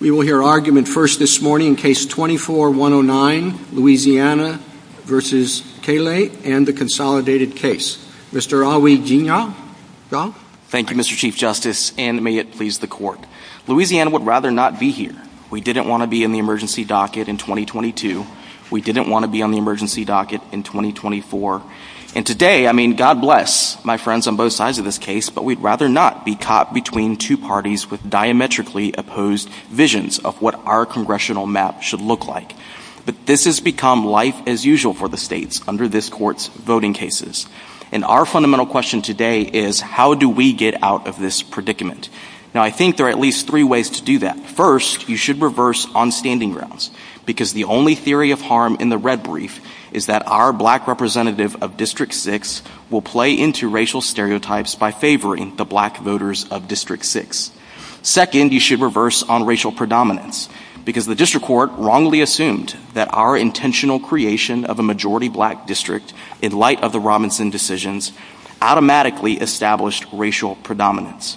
We will hear argument first this morning in case 24-109, Louisiana v. Callais, and the consolidated case. Mr. Awigina. Thank you, Mr. Chief Justice, and may it please the court. Louisiana would rather not be here. We didn't want to be in the emergency docket in 2022. We didn't want to be on the emergency docket in 2024. And today, I mean, God bless my friends on both sides of this case, but we'd rather not be caught between two parties with diametrically opposed visions of what our congressional map should look like. But this has become life as usual for the states under this court's voting cases. And our fundamental question today is how do we get out of this predicament? Now, I think there are at least three ways to do that. First, you should reverse on standing grounds, because the only theory of harm in the red brief is that our black representative of District 6 will play into racial stereotypes by favoring the black voters of District 6. Second, you should reverse on racial predominance, because the district court wrongly assumed that our intentional creation of a majority black district in light of the Robinson decisions automatically established racial predominance.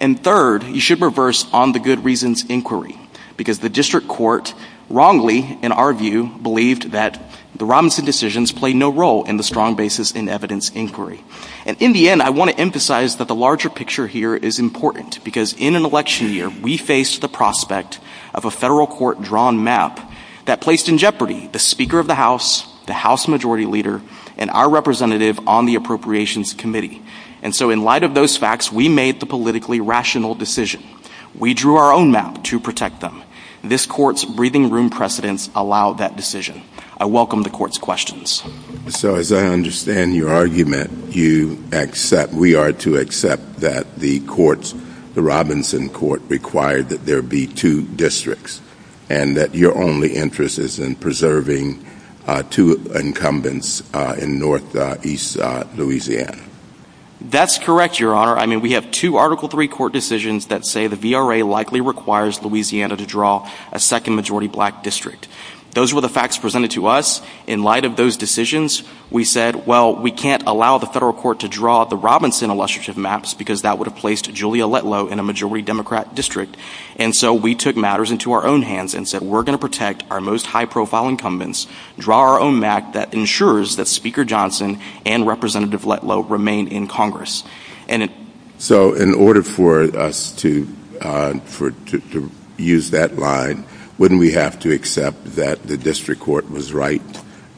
And third, you should reverse on the good reasons inquiry, because the district court wrongly, in our view, believed that the Robinson decisions played no role in the strong basis in evidence inquiry. And in the end, I want to emphasize that the larger picture here is important, because in an election year, we face the prospect of a federal court drawn map that placed in jeopardy the Speaker of the House, the House Majority Leader, and our representative on the Appropriations Committee. And so in light of those facts, we made the politically rational decision. We drew our own map to protect them. This court's breathing room precedents allow that decision. I welcome the court's questions. So as I understand your argument, we are to accept that the courts, the Robinson court, require that there be two districts, and that your only interest is in preserving two incumbents in northeast Louisiana. That's correct, Your Honor. I mean, we have two Article III court decisions that say the VRA likely requires Louisiana to draw a second-majority black district. Those were the facts presented to us. In light of those decisions, we said, well, we can't allow the federal court to draw the Robinson illustrative maps, because that would have placed Julia Letlow in a majority Democrat district. And so we took matters into our own hands and said, we're going to protect our most high-profile incumbents, draw our own map that ensures that Speaker Johnson and Representative Letlow remain in Congress. So in order for us to use that line, wouldn't we have to accept that the district court was right,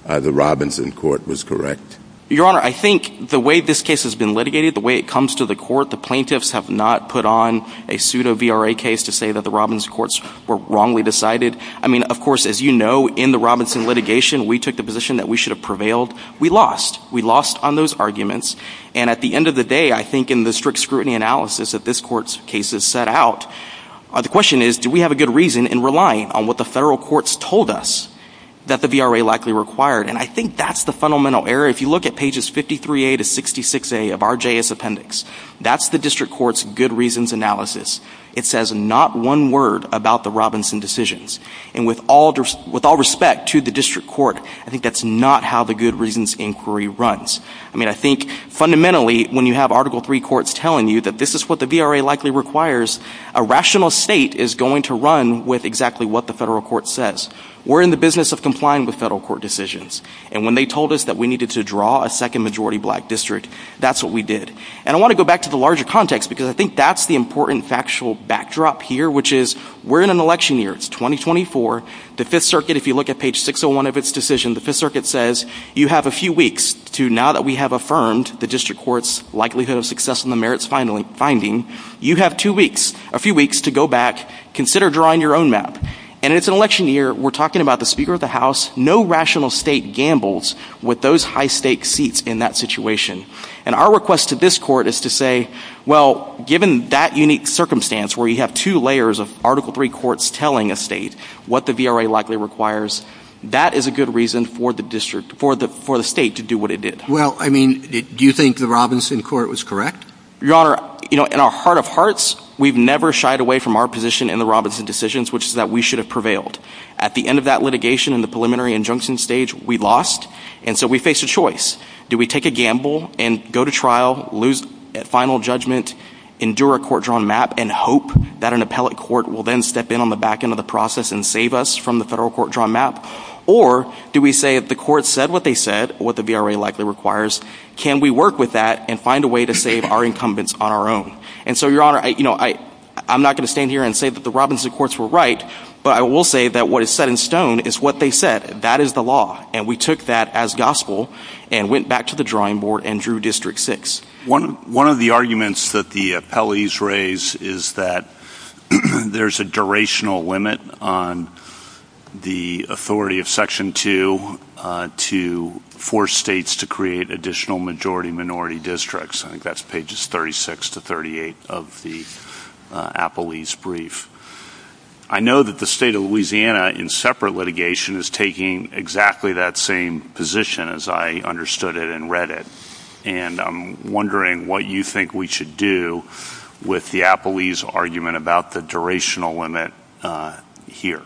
the Robinson court was correct? Your Honor, I think the way this case has been litigated, the way it comes to the court, the plaintiffs have not put on a pseudo-VRA case to say that the Robinson courts were wrongly decided. I mean, of course, as you know, in the Robinson litigation, we took the position that we should have prevailed. We lost. We lost on those arguments. And at the end of the day, I think in the strict scrutiny analysis that this court's case has set out, the question is, do we have a good reason in relying on what the federal courts told us that the VRA likely required? And I think that's the fundamental error. If you look at pages 53A to 66A of our JS appendix, that's the district court's good reasons analysis. It says not one word about the Robinson decisions. And with all respect to the district court, I think that's not how the good reasons inquiry runs. I mean, I think fundamentally, when you have Article III courts telling you that this is what the VRA likely requires, a rational state is going to run with exactly what the federal court says. We're in the business of complying with federal court decisions. And when they told us that we needed to draw a second-majority black district, that's what we did. And I want to go back to the larger context because I think that's the important factual backdrop here, which is we're in an election year. It's 2024. The Fifth Circuit, if you look at page 601 of its decision, the Fifth Circuit says you have a few weeks to, now that we have affirmed the district court's likelihood of success in the merits finding, you have two weeks, a few weeks, to go back, consider drawing your own map. And it's an election year. We're talking about the Speaker of the House. No rational state gambles with those high-stakes seats in that situation. And our request to this court is to say, well, given that unique circumstance, where you have two layers of Article III courts telling a state what the VRA likely requires, that is a good reason for the state to do what it did. Well, I mean, do you think the Robinson court was correct? Your Honor, you know, in our heart of hearts, we've never shied away from our position in the Robinson decisions, which is that we should have prevailed. At the end of that litigation in the preliminary injunction stage, we lost, and so we faced a choice. Do we take a gamble and go to trial, lose at final judgment, endure a court-drawn map, and hope that an appellate court will then step in on the back end of the process and save us from the federal court-drawn map? Or do we say if the court said what they said, what the VRA likely requires, can we work with that and find a way to save our incumbents on our own? And so, Your Honor, you know, I'm not going to stand here and say that the Robinson courts were right, but I will say that what is set in stone is what they said. That is the law, and we took that as gospel and went back to the drawing board and drew District 6. One of the arguments that the appellees raise is that there's a durational limit on the authority of Section 2 to force states to create additional majority-minority districts. I think that's pages 36 to 38 of the appellee's brief. I know that the state of Louisiana in separate litigation is taking exactly that same position as I understood it and read it, and I'm wondering what you think we should do with the appellee's argument about the durational limit here.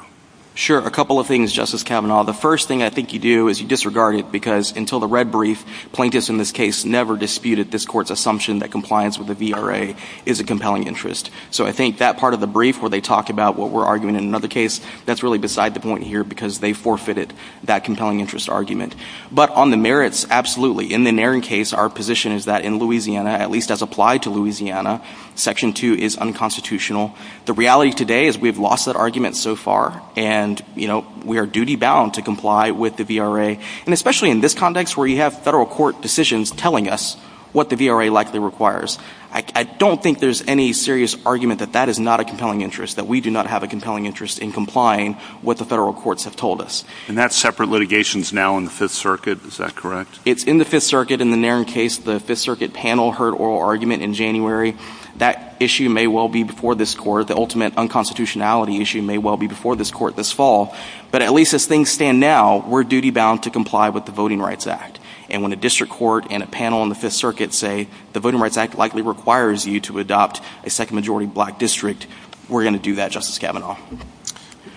Sure. A couple of things, Justice Kavanaugh. The first thing I think you do is you disregard it because until the red brief, plaintiffs in this case never disputed this court's assumption that compliance with the VRA is a compelling interest. So I think that part of the brief where they talk about what we're arguing in another case, that's really beside the point here because they forfeited that compelling interest argument. But on the merits, absolutely. In the Naring case, our position is that in Louisiana, at least as applied to Louisiana, Section 2 is unconstitutional. The reality today is we've lost that argument so far, and we are duty-bound to comply with the VRA, and especially in this context where you have federal court decisions telling us what the VRA likely requires. I don't think there's any serious argument that that is not a compelling interest, that we do not have a compelling interest in complying with what the federal courts have told us. And that separate litigation is now in the Fifth Circuit. Is that correct? It's in the Fifth Circuit. In the Naring case, the Fifth Circuit panel heard oral argument in January. That issue may well be before this court. The ultimate unconstitutionality issue may well be before this court this fall. But at least as things stand now, we're duty-bound to comply with the Voting Rights Act. And when a district court and a panel in the Fifth Circuit say the Voting Rights Act likely requires you to adopt a second-majority black district, we're going to do that, Justice Kavanaugh.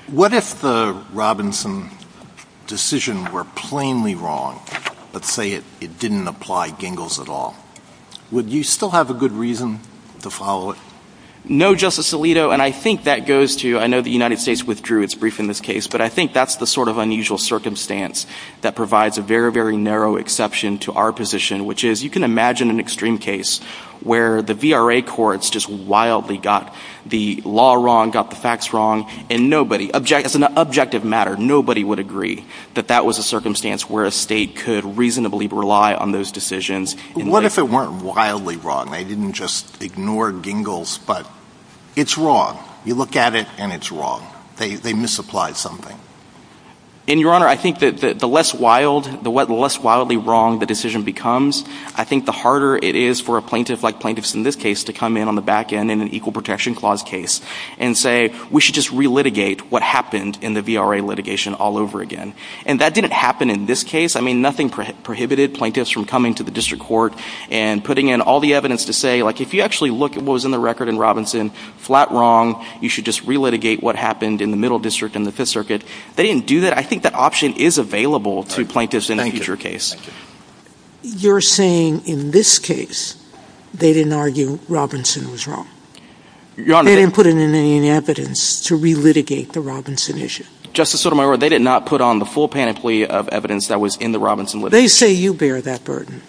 What if the Robinson decision were plainly wrong, but say it didn't apply Gingles at all? Would you still have a good reason to follow it? No, Justice Alito, and I think that goes to, I know the United States withdrew its brief in this case, but I think that's the sort of unusual circumstance that provides a very, very narrow exception to our position, which is you can imagine an extreme case where the VRA courts just wildly got the law wrong, got the facts wrong, and as an objective matter, nobody would agree that that was a circumstance where a state could reasonably rely on those decisions. What if it weren't wildly wrong? They didn't just ignore Gingles, but it's wrong. You look at it, and it's wrong. They misapplied something. And, Your Honor, I think that the less wildly wrong the decision becomes, I think the harder it is for a plaintiff like plaintiffs in this case to come in on the back end in an Equal Protection Clause case and say we should just re-litigate what happened in the VRA litigation all over again. And that didn't happen in this case. I mean, nothing prohibited plaintiffs from coming to the district court and putting in all the evidence to say, like, if you actually look at what was in the record in Robinson, flat wrong, you should just re-litigate what happened in the Middle District and the Fifth Circuit. They didn't do that. I think that option is available to plaintiffs in a future case. You're saying in this case they didn't argue Robinson was wrong. They didn't put in any evidence to re-litigate the Robinson issue. Justice Sotomayor, they did not put on the full panoply of evidence that was in the Robinson litigation. They say you bear that burden.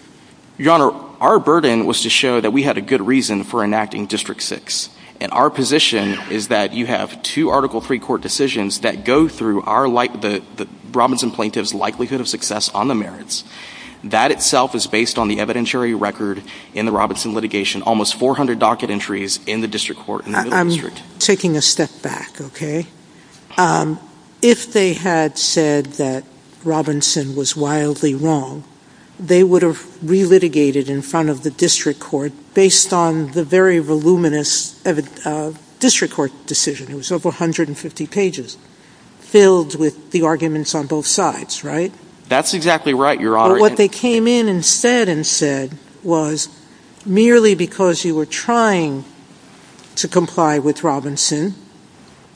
Your Honor, our burden was to show that we had a good reason for enacting District 6. And our position is that you have two article pre-court decisions that go through the Robinson plaintiff's likelihood of success on the merits. That itself is based on the evidentiary record in the Robinson litigation, almost 400 docket entries in the district court in the Middle District. I'm taking a step back, okay? If they had said that Robinson was wildly wrong, they would have re-litigated in front of the district court based on the very voluminous district court decision. It was over 150 pages filled with the arguments on both sides, right? That's exactly right, Your Honor. What they came in and said was, merely because you were trying to comply with Robinson,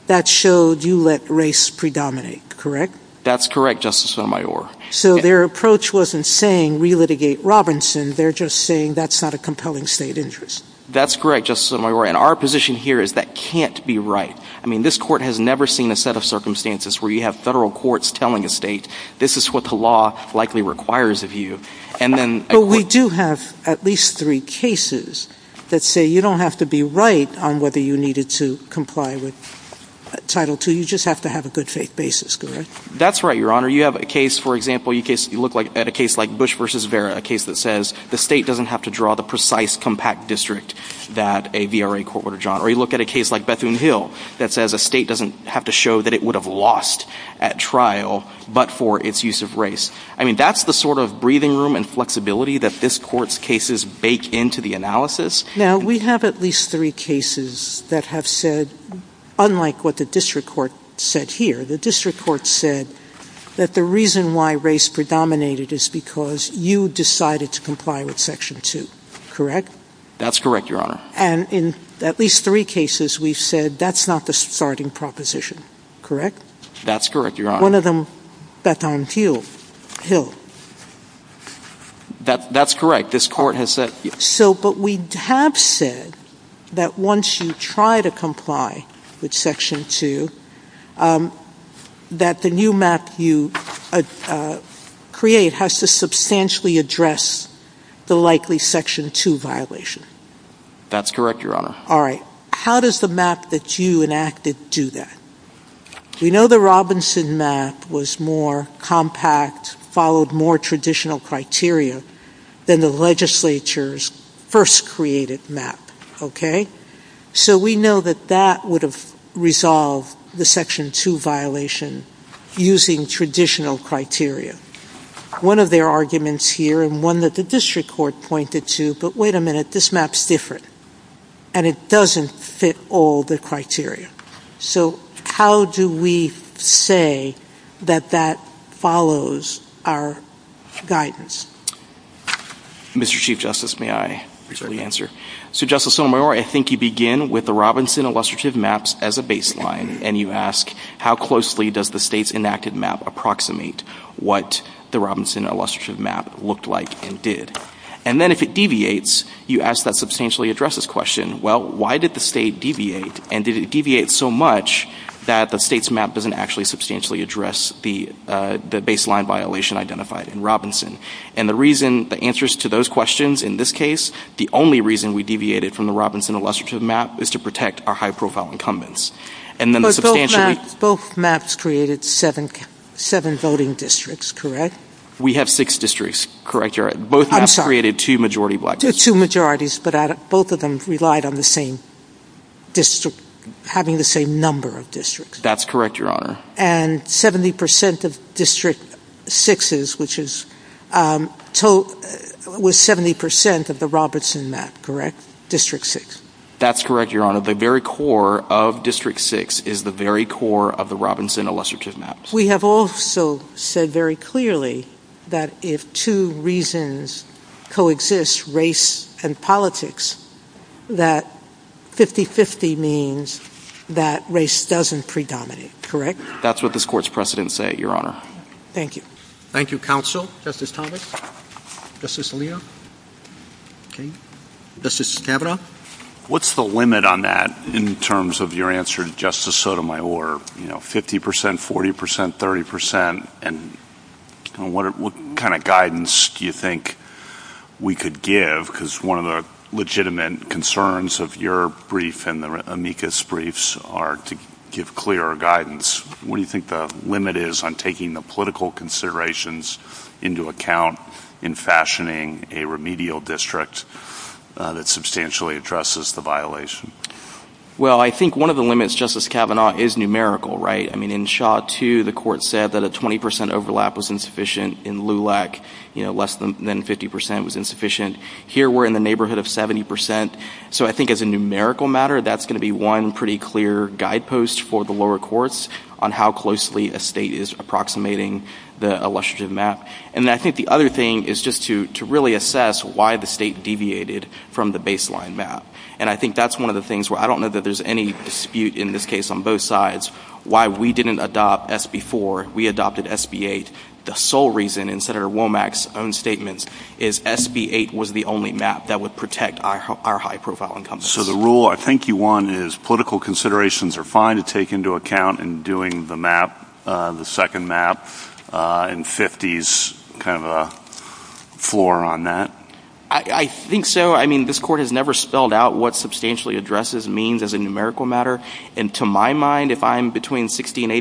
that showed you let race predominate, correct? That's correct, Justice Sotomayor. So their approach wasn't saying re-litigate Robinson. They're just saying that's not a compelling state interest. That's correct, Justice Sotomayor. And our position here is that can't be right. I mean, this court has never seen a set of circumstances where you have federal courts telling a state, this is what the law likely requires of you. But we do have at least three cases that say you don't have to be right on whether you needed to comply with Title II. You just have to have a good faith basis, correct? That's right, Your Honor. You have a case, for example, you look at a case like Bush v. Vera, a case that says the state doesn't have to draw the precise compact district that a VRA court ordered on. Or you look at a case like Bethune Hill that says a state doesn't have to show that it would have lost at trial, but for its use of race. I mean, that's the sort of breathing room and flexibility that this court's cases bake into the analysis. Now, we have at least three cases that have said, unlike what the district court said here, the district court said that the reason why race predominated is because you decided to comply with Section II, correct? That's correct, Your Honor. And in at least three cases we've said that's not the starting proposition, correct? That's correct, Your Honor. One of them, Bethune Hill. That's correct. This court has said... So, but we have said that once you try to comply with Section II, that the new map you create has to substantially address the likely Section II violation. That's correct, Your Honor. All right. How does the map that you enacted do that? We know the Robinson map was more compact, followed more traditional criteria than the legislature's first created map, okay? So we know that that would have resolved the Section II violation using traditional criteria. One of their arguments here, and one that the district court pointed to, but wait a minute, this map's different, and it doesn't fit all the criteria. So how do we say that that follows our guidance? Mr. Chief Justice, may I present the answer? So, Justice Sotomayor, I think you begin with the Robinson illustrative maps as a baseline, and you ask how closely does the state's enacted map approximate what the Robinson illustrative map looked like and did. And then if it deviates, you ask that substantially addresses question, well, why did the state deviate, and did it deviate so much that the state's map doesn't actually substantially address the baseline violation identified in Robinson? And the reason, the answers to those questions in this case, the only reason we deviated from the Robinson illustrative map is to protect our high-profile incumbents. But both maps created seven voting districts, correct? We have six districts, correct, Your Honor. I'm sorry. Both maps created two majority black districts. Two majorities, but both of them relied on the same district, having the same number of districts. That's correct, Your Honor. And 70% of District 6's, which is, was 70% of the Robinson map, correct, District 6? That's correct, Your Honor. The very core of District 6 is the very core of the Robinson illustrative maps. We have also said very clearly that if two reasons coexist, race and politics, that 50-50 means that race doesn't predominate, correct? That's what this Court's precedents say, Your Honor. Thank you. Thank you, Counsel. Justice Thomas? Justice Alito? Okay. Justice Stabenow? What's the limit on that in terms of your answer, Justice Sotomayor? You know, 50%, 40%, 30%, and what kind of guidance do you think we could give? Because one of the legitimate concerns of your brief and the amicus briefs are to give clearer guidance. What do you think the limit is on taking the political considerations into account in fashioning a remedial district that substantially addresses the violation? Well, I think one of the limits, Justice Kavanaugh, is numerical, right? I mean, in Shaw 2, the Court said that a 20% overlap was insufficient. In LULAC, you know, less than 50% was insufficient. Here, we're in the neighborhood of 70%. So I think as a numerical matter, that's going to be one pretty clear guidepost for the lower courts on how closely a state is approximating the illustrative map. And I think the other thing is just to really assess why the state deviated from the baseline map. And I think that's one of the things where I don't know that there's any dispute in this case on both sides why we didn't adopt SB 4, we adopted SB 8. The sole reason, in Senator Womack's own statements, is SB 8 was the only map that would protect our high-profile income. So the rule I think you want is political considerations are fine to take into account in doing the map, the second map, and 50 is kind of a floor on that? I think so. I mean, this Court has never spelled out what substantially addresses means as a numerical matter. And to my mind, if I'm between 60% and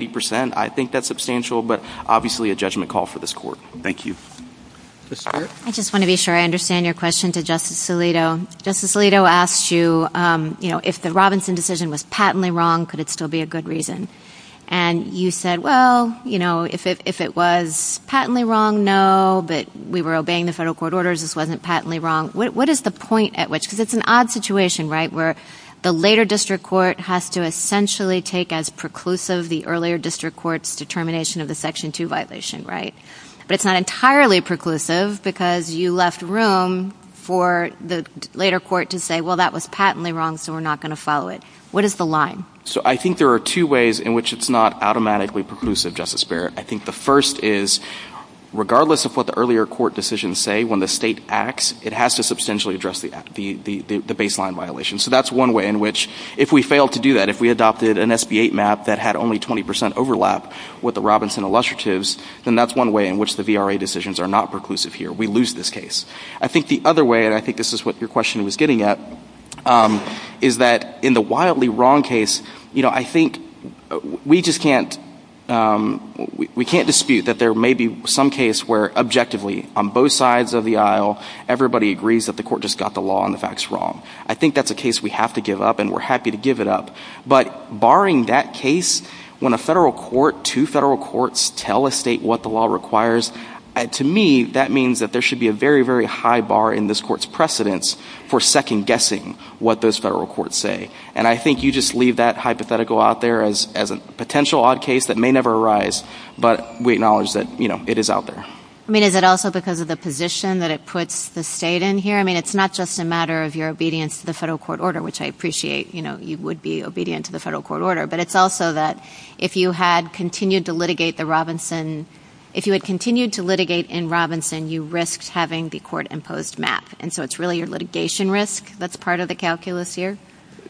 80%, I think that's substantial, but obviously a judgment call for this Court. Thank you. I just want to be sure I understand your question to Justice Alito. Justice Alito asked you, you know, if the Robinson decision was patently wrong, could it still be a good reason? And you said, well, you know, if it was patently wrong, no, but we were obeying the federal court orders, this wasn't patently wrong. What is the point at which, because it's an odd situation, right, where the later district court has to essentially take as preclusive the earlier district court's determination of the Section 2 violation, right? But it's not entirely preclusive because you left room for the later court to say, well, that was patently wrong, so we're not going to follow it. What is the line? So I think there are two ways in which it's not automatically preclusive, Justice Barrett. I think the first is, regardless of what the earlier court decisions say, when the state acts, it has to substantially address the baseline violation. So that's one way in which, if we fail to do that, if we adopted an SB 8 map that had only 20% overlap with the Robinson illustratives, then that's one way in which the VRA decisions are not preclusive here. We lose this case. I think the other way, and I think this is what your question was getting at, is that in the wildly wrong case, you know, I think we just can't dispute that there may be some case where, objectively, on both sides of the aisle, everybody agrees that the court just got the law on the facts wrong. I think that's a case we have to give up, and we're happy to give it up. But barring that case, when a federal court, two federal courts, tell a state what the law requires, to me, that means that there should be a very, very high bar in this court's precedence for second-guessing what those federal courts say. And I think you just leave that hypothetical out there as a potential odd case that may never arise, but we acknowledge that, you know, it is out there. I mean, is it also because of the position that it puts the state in here? I mean, it's not just a matter of your obedience to the federal court order, which I appreciate. You know, you would be obedient to the federal court order. But it's also that if you had continued to litigate in Robinson, you risked having the court-imposed map. And so it's really your litigation risk that's part of the calculus here?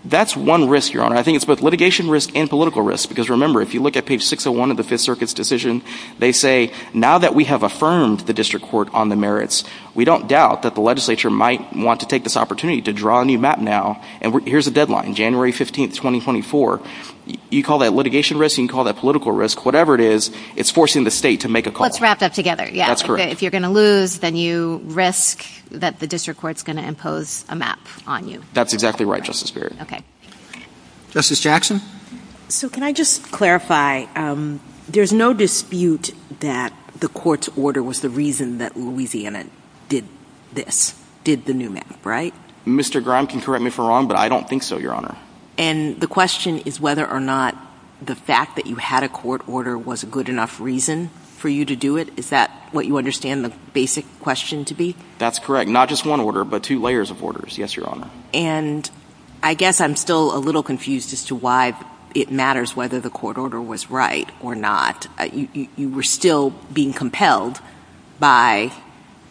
That's one risk, Your Honor. I think it's both litigation risk and political risk. Because remember, if you look at page 601 of the Fifth Circuit's decision, they say, now that we have affirmed the district court on the merits, we don't doubt that the legislature might want to take this opportunity to draw a new map now. And here's the deadline, January 15, 2024. You call that litigation risk, you can call that political risk. Whatever it is, it's forcing the state to make a call. Let's wrap that together, yes. That's correct. If you're going to lose, then you risk that the district court's going to impose a map on you. That's exactly right, Justice Barrett. Okay. Justice Jackson? So can I just clarify, there's no dispute that the court's order was the reason that Louisiana did this, did the new map, right? Mr. Grime can correct me if I'm wrong, but I don't think so, Your Honor. And the question is whether or not the fact that you had a court order was a good enough reason for you to do it? Is that what you understand the basic question to be? That's correct. Not just one order, but two layers of orders, yes, Your Honor. And I guess I'm still a little confused as to why it matters whether the court order was right or not. You were still being compelled by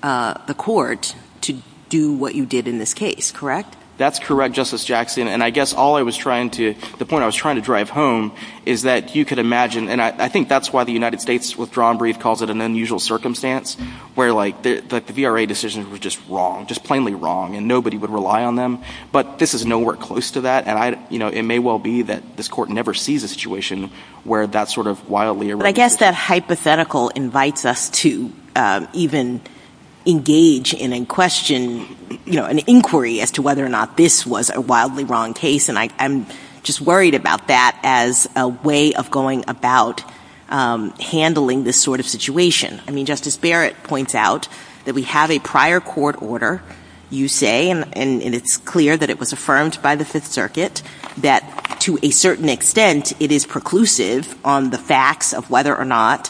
the court to do what you did in this case, correct? That's correct, Justice Jackson. And I guess all I was trying to – the point I was trying to drive home is that you could imagine – and I think that's why the United States Withdrawal Brief calls it an unusual circumstance, where the VRA decisions were just wrong, just plainly wrong, and nobody would rely on them. But this is nowhere close to that. And it may well be that this court never sees a situation where that's sort of wildly irrefutable. But I guess that hypothetical invites us to even engage in a question, an inquiry as to whether or not this was a wildly wrong case. And I'm just worried about that as a way of going about handling this sort of situation. I mean, Justice Barrett points out that we have a prior court order, you say, and it's clear that it was affirmed by the Fifth Circuit that, to a certain extent, it is preclusive on the facts of whether or not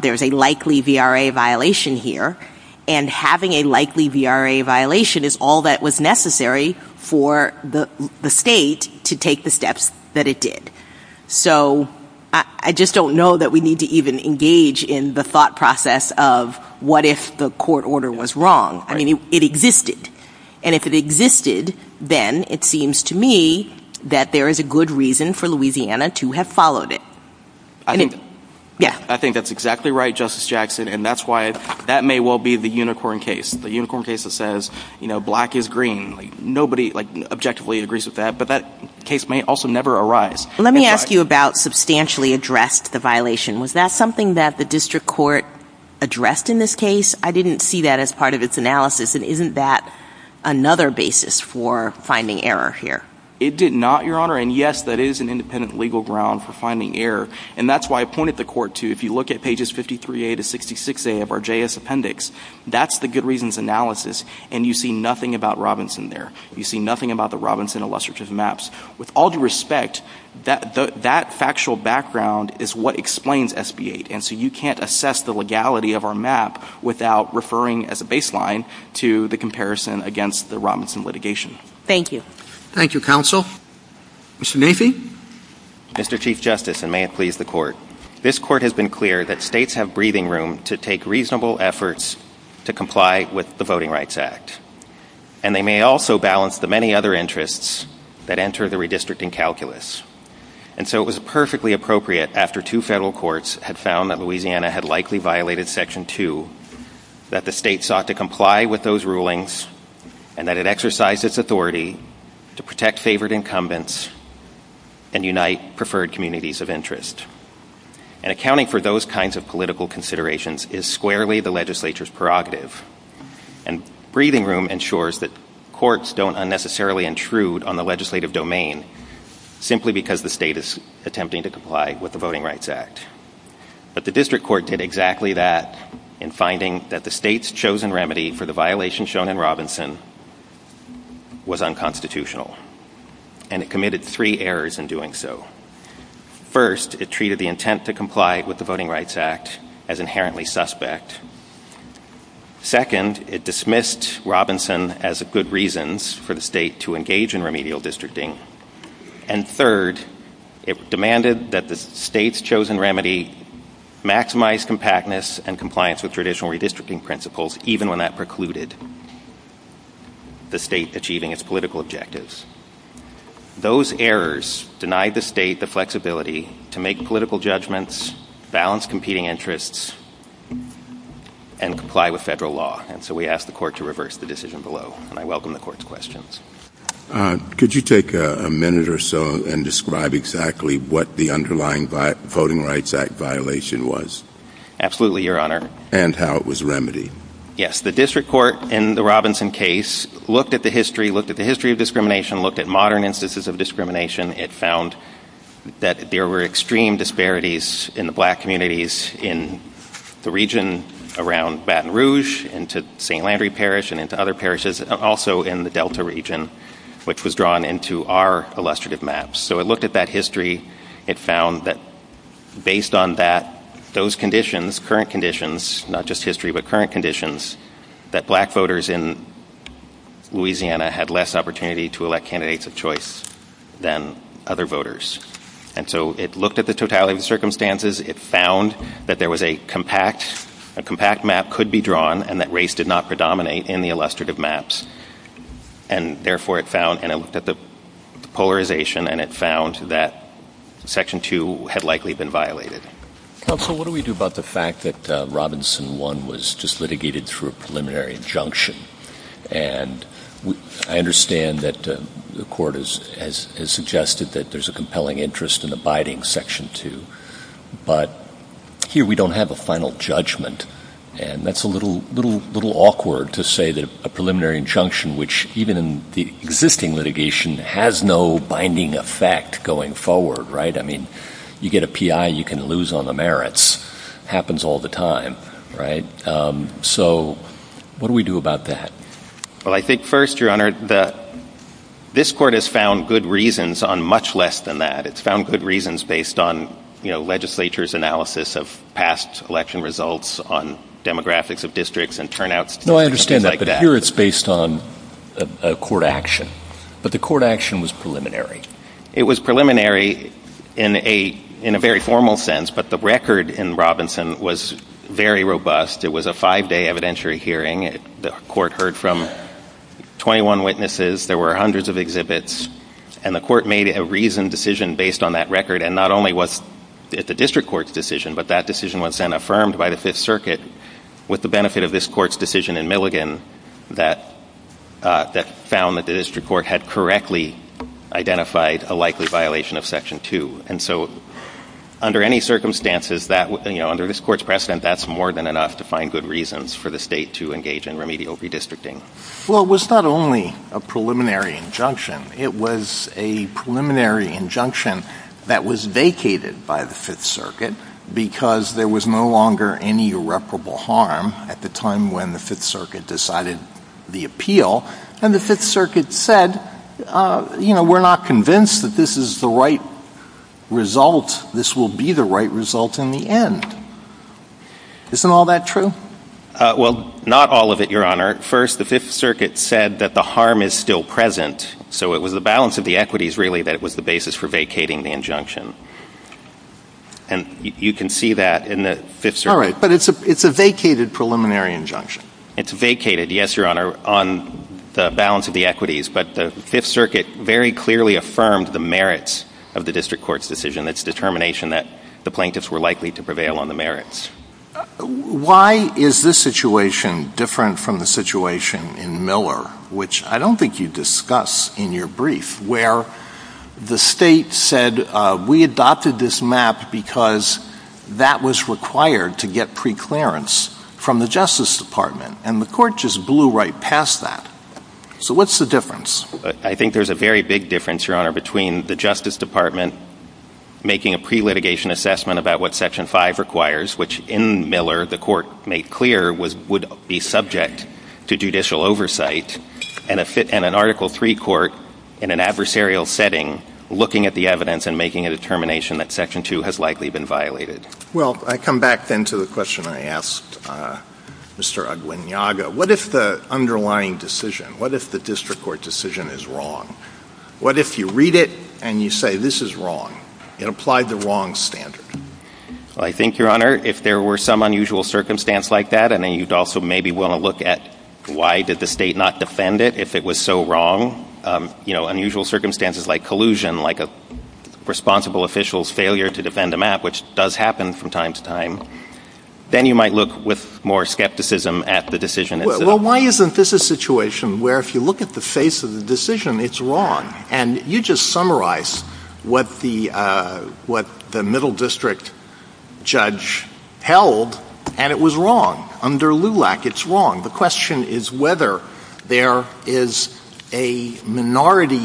there's a likely VRA violation here. And having a likely VRA violation is all that was necessary for the state to take the steps that it did. So I just don't know that we need to even engage in the thought process of what if the court order was wrong. I mean, it existed. And if it existed, then it seems to me that there is a good reason for Louisiana to have followed it. I think that's exactly right, Justice Jackson, and that's why – that may well be the Unicorn case, the Unicorn case that says, you know, black is green. Nobody, like, objectively agrees with that, but that case may also never arise. Let me ask you about substantially addressed the violation. Was that something that the district court addressed in this case? I didn't see that as part of its analysis, and isn't that another basis for finding error here? It did not, Your Honor, and yes, that is an independent legal ground for finding error. And that's why I pointed the court to, if you look at pages 53A to 66A of our JS appendix, that's the good reasons analysis, and you see nothing about Robinson there. You see nothing about the Robinson illustrative maps. With all due respect, that factual background is what explains SB 8, and so you can't assess the legality of our map without referring as a baseline to the comparison against the Robinson litigation. Thank you. Thank you, Counsel. Mr. Nafee? Mr. Chief Justice, and may it please the Court, this Court has been clear that states have breathing room to take reasonable efforts to comply with the Voting Rights Act, and they may also balance the many other interests that enter the redistricting calculus. And so it was perfectly appropriate, after two federal courts had found that Louisiana had likely violated Section 2, that the state sought to comply with those rulings, and that it exercised its authority to protect favored incumbents and unite preferred communities of interest. And accounting for those kinds of political considerations is squarely the legislature's prerogative. And breathing room ensures that courts don't unnecessarily intrude on the legislative domain, simply because the state is attempting to comply with the Voting Rights Act. But the district court did exactly that in finding that the state's chosen remedy for the violation shown in Robinson was unconstitutional, and it committed three errors in doing so. First, it treated the intent to comply with the Voting Rights Act as inherently suspect. Second, it dismissed Robinson as a good reason for the state to engage in remedial districting. And third, it demanded that the state's chosen remedy maximize compactness and compliance with traditional redistricting principles, even when that precluded the state achieving its political objectives. Those errors denied the state the flexibility to make political judgments, balance competing interests, and comply with federal law. And so we ask the court to reverse the decision below, and I welcome the court's questions. Could you take a minute or so and describe exactly what the underlying Voting Rights Act violation was? Absolutely, Your Honor. And how it was remedied. Yes, the district court in the Robinson case looked at the history, looked at the history of discrimination, looked at modern instances of discrimination. It found that there were extreme disparities in the black communities in the region around Baton Rouge and to St. Landry Parish and into other parishes, also in the Delta region, which was drawn into our illustrative maps. So it looked at that history. It found that based on that, those conditions, current conditions, not just history, but current conditions, that black voters in Louisiana had less opportunity to elect candidates of choice than other voters. And so it looked at the totality of the circumstances. It found that there was a compact map could be drawn and that race did not predominate in the illustrative maps. And, therefore, it found, and it looked at the polarization, and it found that Section 2 had likely been violated. Counsel, what do we do about the fact that Robinson 1 was just litigated through a preliminary injunction? And I understand that the court has suggested that there's a compelling interest in abiding Section 2, but here we don't have a final judgment, and that's a little awkward to say that a preliminary injunction, which even in the existing litigation, has no binding effect going forward, right? I mean, you get a P.I., you can lose on the merits. It happens all the time, right? So what do we do about that? Well, I think first, Your Honor, this court has found good reasons on much less than that. It's found good reasons based on, you know, legislature's analysis of past election results on demographics of districts and turnouts. No, I understand that, but here it's based on a court action. But the court action was preliminary. It was preliminary in a very formal sense, but the record in Robinson was very robust. It was a five-day evidentiary hearing. The court heard from 21 witnesses. There were hundreds of exhibits. And the court made a reasoned decision based on that record, and not only was it the district court's decision, but that decision was then affirmed by the Fifth Circuit with the benefit of this court's decision in Milligan that found that the district court had correctly identified a likely violation of Section 2. And so under any circumstances, you know, under this court's precedent, that's more than enough to find good reasons for the state to engage in remedial redistricting. Well, it was not only a preliminary injunction. It was a preliminary injunction that was vacated by the Fifth Circuit because there was no longer any irreparable harm at the time when the Fifth Circuit decided the appeal. And the Fifth Circuit said, you know, we're not convinced that this is the right result. This will be the right result in the end. Isn't all that true? Well, not all of it, Your Honor. First, the Fifth Circuit said that the harm is still present, so it was the balance of the equities really that it was the basis for vacating the injunction. And you can see that in the Fifth Circuit. All right, but it's a vacated preliminary injunction. It's vacated, yes, Your Honor, on the balance of the equities, but the Fifth Circuit very clearly affirmed the merits of the district court's decision, its determination that the plaintiffs were likely to prevail on the merits. Why is this situation different from the situation in Miller, which I don't think you discuss in your brief, where the state said we adopted this map because that was required to get preclearance from the Justice Department, and the court just blew right past that. So what's the difference? I think there's a very big difference, Your Honor, between the Justice Department making a pre-litigation assessment about what Section 5 requires, which in Miller the court made clear would be subject to judicial oversight, and an Article III court in an adversarial setting looking at the evidence and making a determination that Section 2 has likely been violated. Well, I come back then to the question I asked Mr. Aguinaldo. What if the underlying decision, what if the district court decision is wrong? What if you read it and you say this is wrong? It applied the wrong standard. Well, I think, Your Honor, if there were some unusual circumstance like that, and then you'd also maybe want to look at why did the state not defend it if it was so wrong. You know, unusual circumstances like collusion, like a responsible official's failure to defend a map, which does happen from time to time. Then you might look with more skepticism at the decision. Well, why isn't this a situation where if you look at the face of the decision, it's wrong? And you just summarized what the middle district judge held, and it was wrong. Under LULAC, it's wrong. The question is whether there is a minority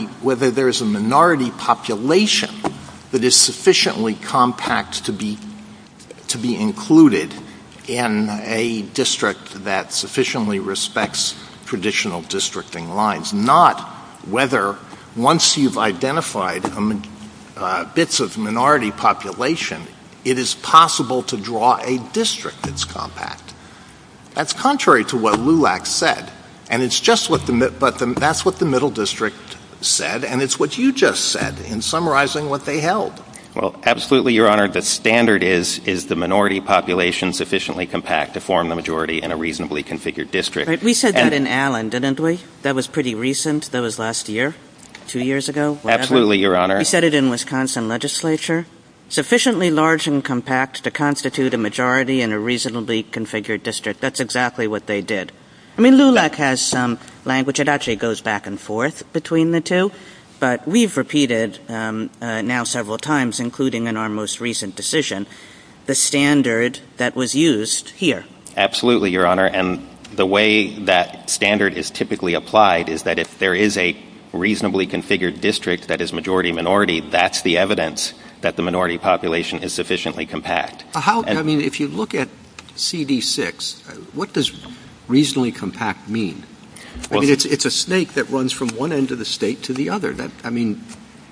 population that is sufficiently compact to be included in a district that sufficiently respects traditional districting lines, not whether once you've identified bits of minority population, it is possible to draw a district that's compact. That's contrary to what LULAC said, but that's what the middle district said, and it's what you just said in summarizing what they held. Well, absolutely, Your Honor. The standard is, is the minority population sufficiently compact to form the majority in a reasonably configured district. We said that in Allen, didn't we? That was pretty recent. That was last year, two years ago. Absolutely, Your Honor. We said it in Wisconsin legislature. Sufficiently large and compact to constitute a majority in a reasonably configured district. That's exactly what they did. I mean, LULAC has some language. It actually goes back and forth between the two, but we've repeated now several times, including in our most recent decision, the standard that was used here. Absolutely, Your Honor, and the way that standard is typically applied is that if there is a reasonably configured district that is majority-minority, that's the evidence that the minority population is sufficiently compact. I mean, if you look at CD6, what does reasonably compact mean? I mean, it's a snake that runs from one end of the state to the other. I mean,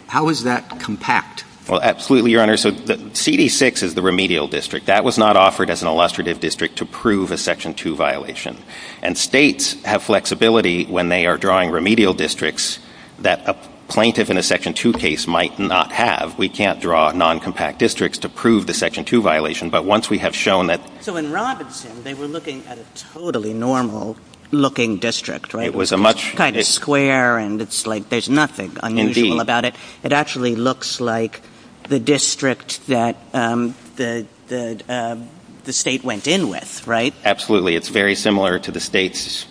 how is that compact? Well, absolutely, Your Honor. So CD6 is the remedial district. That was not offered as an illustrative district to prove a Section 2 violation, and states have flexibility when they are drawing remedial districts that a plaintiff in a Section 2 case might not have. We can't draw non-compact districts to prove the Section 2 violation, but once we have shown that... So in Robinson, they were looking at a totally normal-looking district, right? It was a much... Kind of square, and it's like there's nothing unusual about it. It actually looks like the district that the state went in with, right? Absolutely. It's very similar to the states,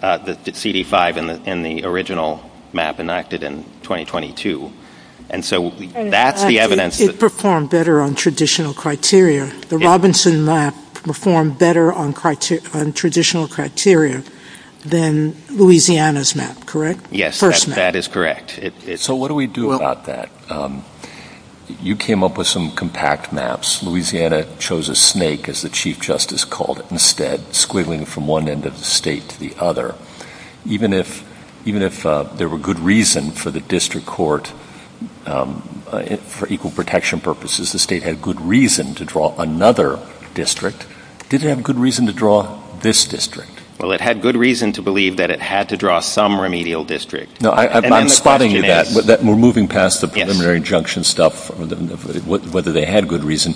the CD5 and the original map enacted in 2022. And so that's the evidence... It performed better on traditional criteria. The Robinson map performed better on traditional criteria than Louisiana's map, correct? Yes, that is correct. So what do we do about that? You came up with some compact maps. Louisiana chose a snake, as the Chief Justice called it, instead, squiggling from one end of the state to the other. Even if there were good reason for the district court, for equal protection purposes, the state had good reason to draw another district, did it have good reason to draw this district? Well, it had good reason to believe that it had to draw some remedial district. We're moving past the preliminary injunction stuff, whether they had good reason.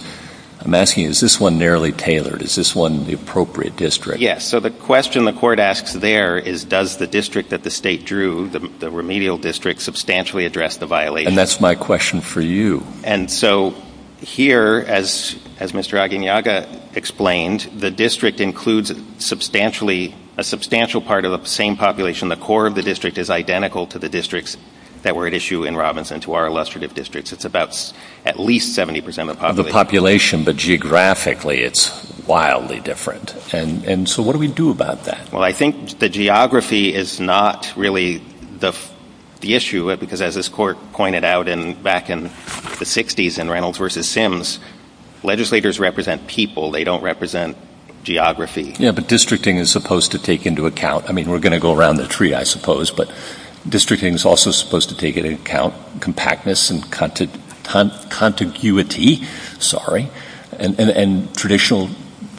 I'm asking, is this one narrowly tailored? Is this one the appropriate district? Yes. So the question the court asks there is, does the district that the state drew, the remedial district, substantially address the violation? And that's my question for you. And so here, as Mr. Aguiñaga explained, the district includes a substantial part of the same population. The core of the district is identical to the districts that were at issue in Robinson, to our illustrative districts. It's about at least 70% of the population. But geographically, it's wildly different. And so what do we do about that? Well, I think the geography is not really the issue, because as this court pointed out back in the 60s in Reynolds v. Sims, legislators represent people. They don't represent geography. Yeah, but districting is supposed to take into account. I mean, we're going to go around the tree, I suppose, but districting is also supposed to take into account compactness and contiguity, sorry, and traditional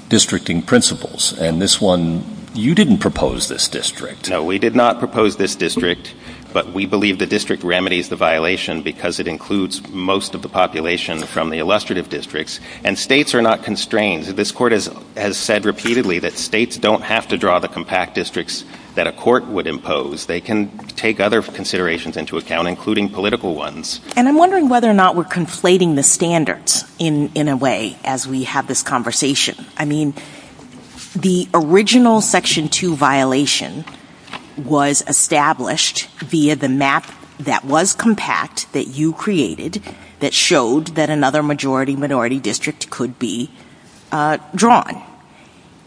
districting principles. And this one, you didn't propose this district. No, we did not propose this district, but we believe the district remedies the violation because it includes most of the population from the illustrative districts. And states are not constrained. This court has said repeatedly that states don't have to draw the compact districts that a court would impose. They can take other considerations into account, including political ones. And I'm wondering whether or not we're conflating the standards in a way as we have this conversation. I mean, the original Section 2 violation was established via the map that was compact that you created that showed that another majority-minority district could be drawn.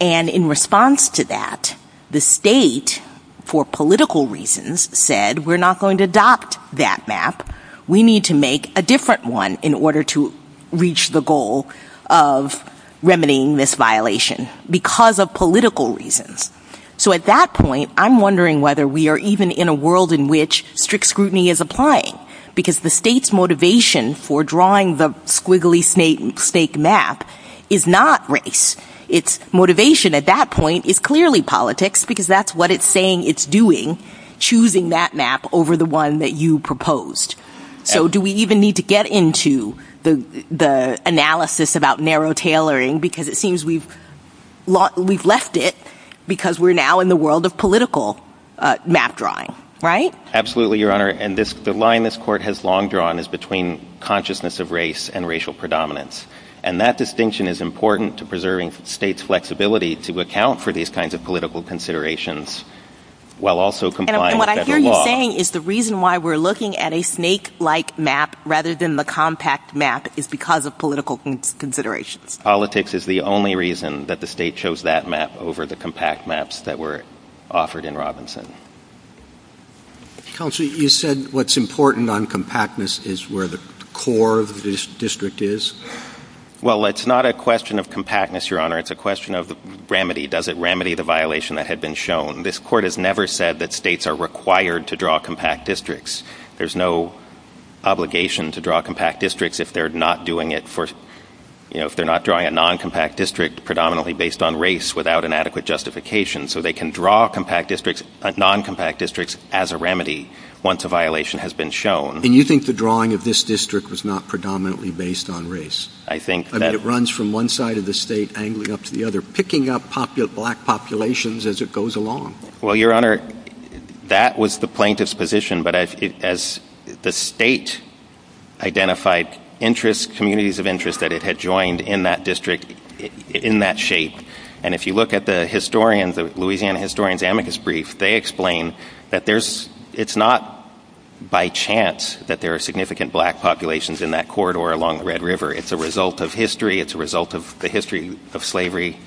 And in response to that, the state, for political reasons, said we're not going to adopt that map. We need to make a different one in order to reach the goal of remedying this violation because of political reasons. So at that point, I'm wondering whether we are even in a world in which strict scrutiny is applying because the state's motivation for drawing the squiggly snake map is not race. Its motivation at that point is clearly politics because that's what it's saying it's doing, choosing that map over the one that you proposed. So do we even need to get into the analysis about narrow tailoring because it seems we've left it because we're now in the world of political map drawing, right? Absolutely, Your Honor. And the line this court has long drawn is between consciousness of race and racial predominance. And that distinction is important to preserving states' flexibility to account for these kinds of political considerations while also complying with federal law. And what I hear you saying is the reason why we're looking at a snake-like map rather than the compact map is because of political considerations. Politics is the only reason that the state chose that map over the compact maps that were offered in Robinson. Counsel, you said what's important on compactness is where the core of this district is. Well, it's not a question of compactness, Your Honor. It's a question of remedy. Does it remedy the violation that had been shown? This court has never said that states are required to draw compact districts. There's no obligation to draw compact districts if they're not doing it for, you know, if they're not drawing a non-compact district predominantly based on race without an adequate justification. So they can draw compact districts, non-compact districts as a remedy once a violation has been shown. And you think the drawing of this district was not predominantly based on race? I think that— I mean, it runs from one side of the state angling up to the other, picking up black populations as it goes along. Well, Your Honor, that was the plaintiff's position. But as the state identified interests, communities of interest that it had joined in that district, in that shape, and if you look at the historian, the Louisiana historian's amicus brief, they explain that it's not by chance that there are significant black populations in that corridor along the Red River. It's a result of history. It's a result of the history of slavery,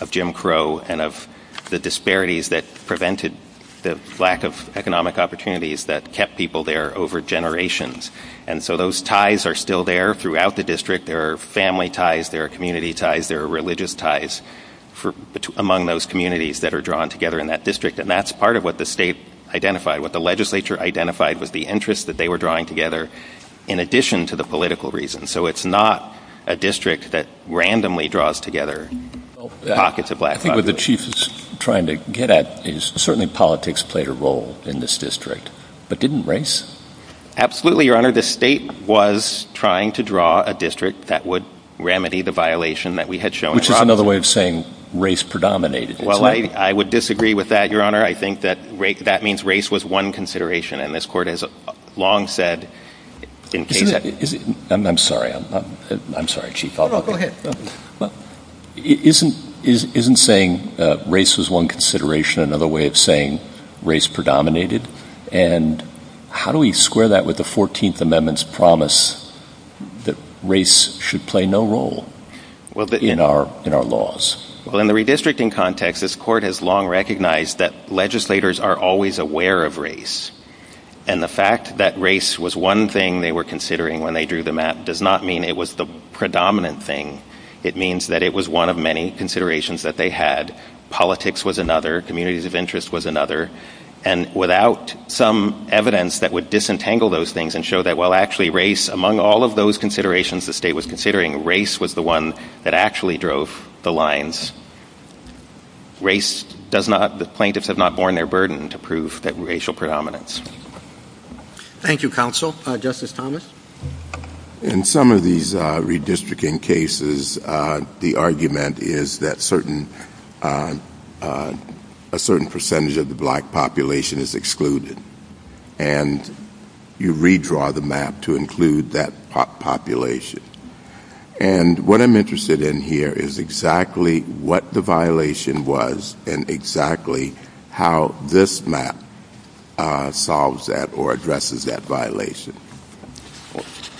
of Jim Crow, and of the disparities that prevented the lack of economic opportunities that kept people there over generations. And so those ties are still there throughout the district. There are family ties. There are community ties. There are religious ties among those communities that are drawn together in that district. And that's part of what the state identified, what the legislature identified, was the interest that they were drawing together in addition to the political reasons. So it's not a district that randomly draws together pockets of black population. The point that the Chief is trying to get at is certainly politics played a role in this district, but didn't race? Absolutely, Your Honor. The state was trying to draw a district that would remedy the violation that we had shown. Which is another way of saying race predominated. Well, I would disagree with that, Your Honor. I think that means race was one consideration, and this Court has long said in case that... I'm sorry. I'm sorry, Chief. No, no, go ahead. Isn't saying race is one consideration another way of saying race predominated? And how do we square that with the 14th Amendment's promise that race should play no role in our laws? Well, in the redistricting context, this Court has long recognized that legislators are always aware of race. And the fact that race was one thing they were considering when they drew the map does not mean it was the predominant thing. It means that it was one of many considerations that they had. Politics was another. Communities of interest was another. And without some evidence that would disentangle those things and show that, well, actually race, among all of those considerations the state was considering, race was the one that actually drove the lines. Race does not... The plaintiffs have not borne their burden to prove that racial predominance. Thank you, counsel. Justice Thomas? In some of these redistricting cases, the argument is that a certain percentage of the black population is excluded. And you redraw the map to include that population. And what I'm interested in here is exactly what the violation was and exactly how this map solves that or addresses that violation.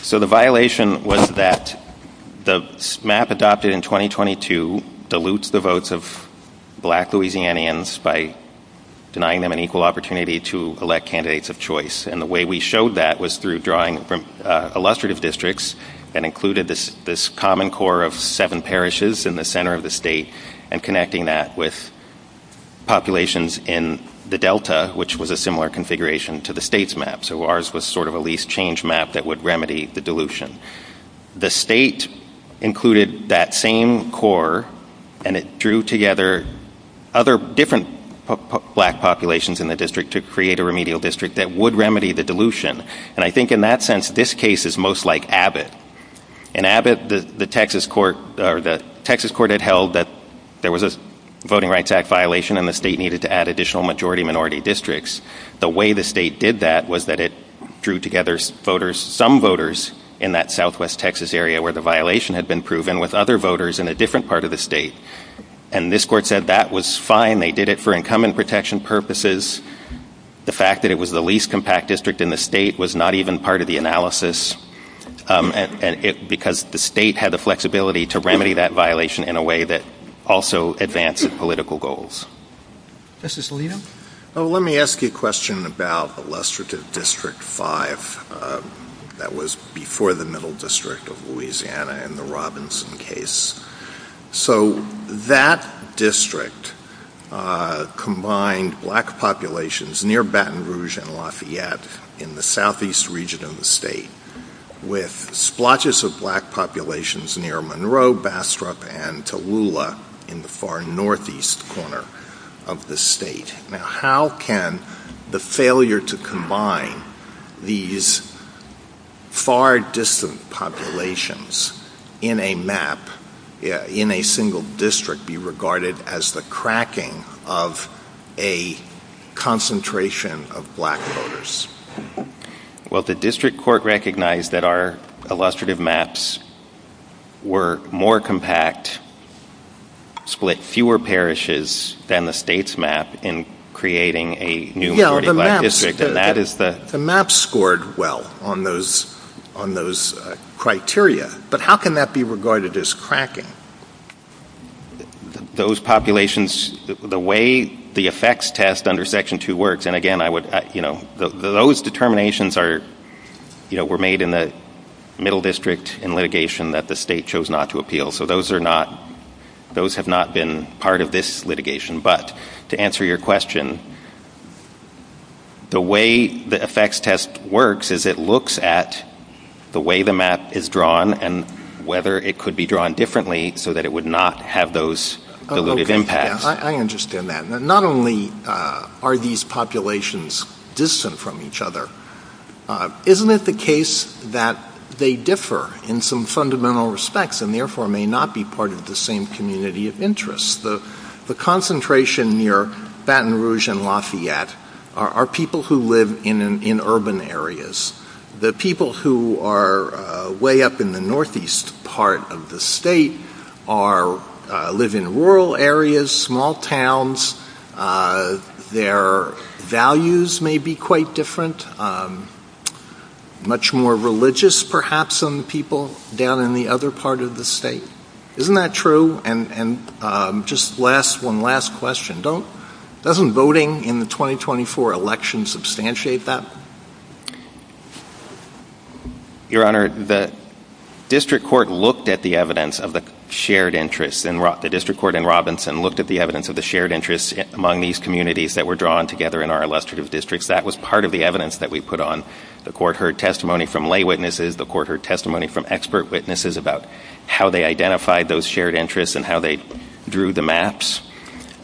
So the violation was that the map adopted in 2022 dilutes the votes of black Louisianians by denying them an equal opportunity to elect candidates of choice. And the way we showed that was through drawing illustrative districts and included this common core of seven parishes in the center of the state and connecting that with populations in the Delta, which was a similar configuration to the state's map. So ours was sort of a least change map that would remedy the dilution. The state included that same core and it drew together other different black populations in the district to create a remedial district that would remedy the dilution. And I think in that sense, this case is most like Abbott. In Abbott, the Texas court had held that there was a Voting Rights Act violation and the state needed to add additional majority-minority districts. The way the state did that was that it drew together some voters in that southwest Texas area where the violation had been proven with other voters in a different part of the state. And this court said that was fine. They did it for incumbent protection purposes. The fact that it was the least compact district in the state was not even part of the analysis because the state had the flexibility to remedy that violation in a way that also advances political goals. Justice Alito? Let me ask you a question about illustrative District 5. That was before the Middle District of Louisiana and the Robinson case. So that district combined black populations near Baton Rouge and Lafayette in the southeast region of the state with splotches of black populations near Monroe, Bastrop, and Tallulah in the far northeast corner of the state. Now how can the failure to combine these far distant populations in a map, in a single district, be regarded as the cracking of a concentration of black voters? Well, the district court recognized that our illustrative maps were more compact, split fewer parishes than the state's map in creating a new district. The maps scored well on those criteria, but how can that be regarded as cracking? Those populations, the way the effects test under Section 2 works, and again, those determinations were made in the Middle District in litigation that the state chose not to appeal. So those have not been part of this litigation. But to answer your question, the way the effects test works is it looks at the way the map is drawn and whether it could be drawn differently so that it would not have those impacts. I understand that. Not only are these populations distant from each other, isn't it the case that they differ in some fundamental respects and therefore may not be part of the same community of interest? The concentration near Baton Rouge and Lafayette are people who live in urban areas. The people who are way up in the northeast part of the state live in rural areas, small towns. Their values may be quite different, much more religious perhaps than the people down in the other part of the state. Isn't that true? And just one last question. Doesn't voting in the 2024 election substantiate that? Your Honor, the district court looked at the evidence of the shared interests. The district court in Robinson looked at the evidence of the shared interests among these communities that were drawn together in our illustrative districts. That was part of the evidence that we put on. The court heard testimony from lay witnesses. The court heard testimony from expert witnesses about how they identified those shared interests and how they drew the maps.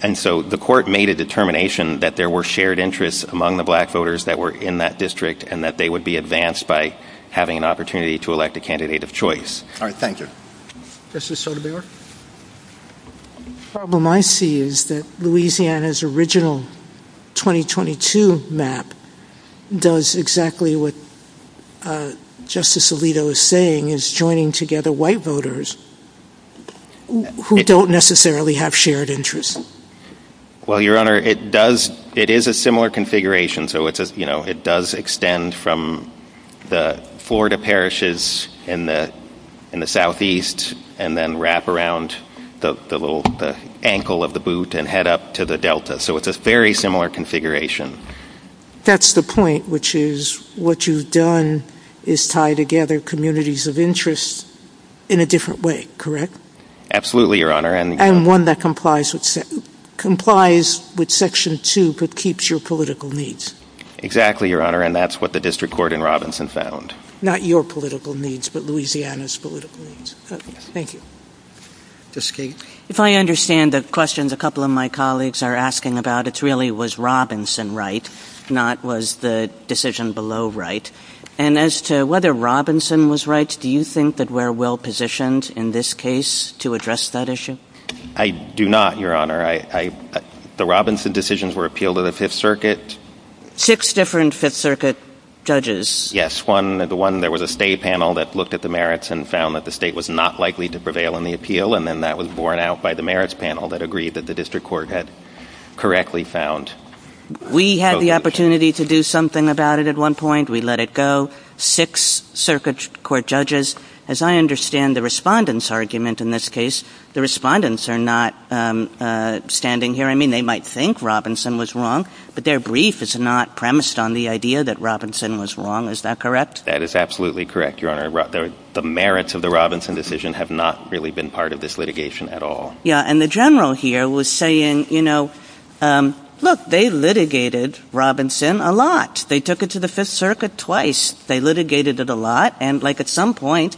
And so the court made a determination that there were shared interests among the black voters that were in that district and that they would be advanced by having an opportunity to elect a candidate of choice. All right, thank you. Justice Sotomayor? The problem I see is that Louisiana's original 2022 map does exactly what Justice Alito is saying, is joining together white voters who don't necessarily have shared interests. Well, Your Honor, it is a similar configuration. It does extend from the Florida parishes in the southeast and then wrap around the ankle of the boot and head up to the delta. So it's a very similar configuration. That's the point, which is what you've done is tie together communities of interest in a different way, correct? Absolutely, Your Honor. And one that complies with Section 2 but keeps your political needs. Exactly, Your Honor. And that's what the district court in Robinson found. Not your political needs, but Louisiana's political needs. Thank you. Justice Kagan? If I understand the question a couple of my colleagues are asking about, it really was Robinson right, not was the decision below right. And as to whether Robinson was right, do you think that we're well positioned in this case to address that issue? I do not, Your Honor. The Robinson decisions were appealed to the Fifth Circuit. Six different Fifth Circuit judges. Yes, there was a state panel that looked at the merits and found that the state was not likely to prevail in the appeal, and then that was borne out by the merits panel that agreed that the district court had correctly found. We had the opportunity to do something about it at one point. We let it go. Six circuit court judges. As I understand the respondents' argument in this case, the respondents are not standing here. I mean, they might think Robinson was wrong, but their brief is not premised on the idea that Robinson was wrong. Is that correct? That is absolutely correct, Your Honor. The merits of the Robinson decision have not really been part of this litigation at all. Yeah, and the general here was saying, you know, look, they litigated Robinson a lot. They took it to the Fifth Circuit twice. They litigated it a lot, and like at some point,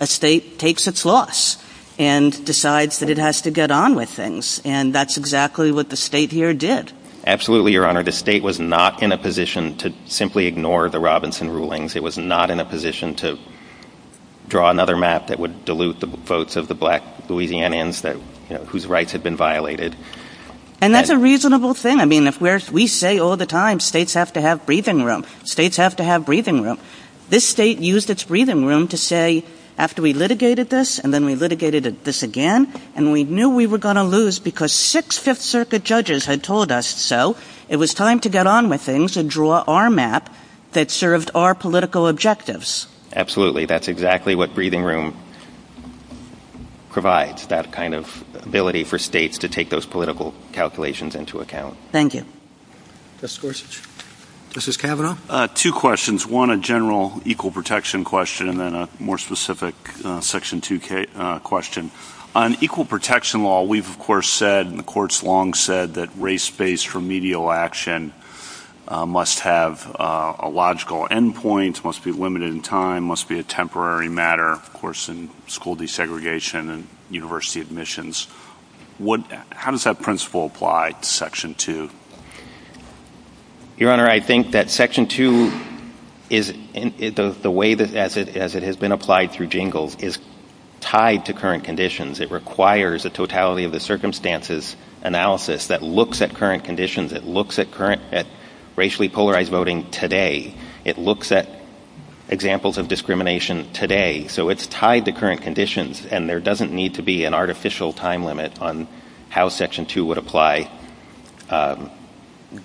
a state takes its loss and decides that it has to get on with things, and that's exactly what the state here did. Absolutely, Your Honor. The state was not in a position to simply ignore the Robinson rulings. It was not in a position to draw another map that would dilute the votes of the black Louisianians whose rights had been violated. And that's a reasonable thing. I mean, we say all the time states have to have breathing room. States have to have breathing room. This state used its breathing room to say, after we litigated this and then we litigated this again, and we knew we were going to lose because six Fifth Circuit judges had told us so. It was time to get on with things and draw our map that served our political objectives. That's exactly what breathing room provides, that kind of ability for states to take those political calculations into account. Thank you. Justice Gorsuch. Justice Kavanaugh. Two questions. One, a general equal protection question, and then a more specific Section 2k question. On equal protection law, we've, of course, said and the courts long said that race-based remedial action must have a logical end point, must be limited in time, must be a temporary matter, of course, in school desegregation and university admissions. How does that principle apply to Section 2? Your Honor, I think that Section 2, as it has been applied through jingles, is tied to current conditions. It requires a totality of the circumstances analysis that looks at current conditions. It looks at racially polarized voting today. It looks at examples of discrimination today. So it's tied to current conditions, and there doesn't need to be an artificial time limit on how Section 2 would apply,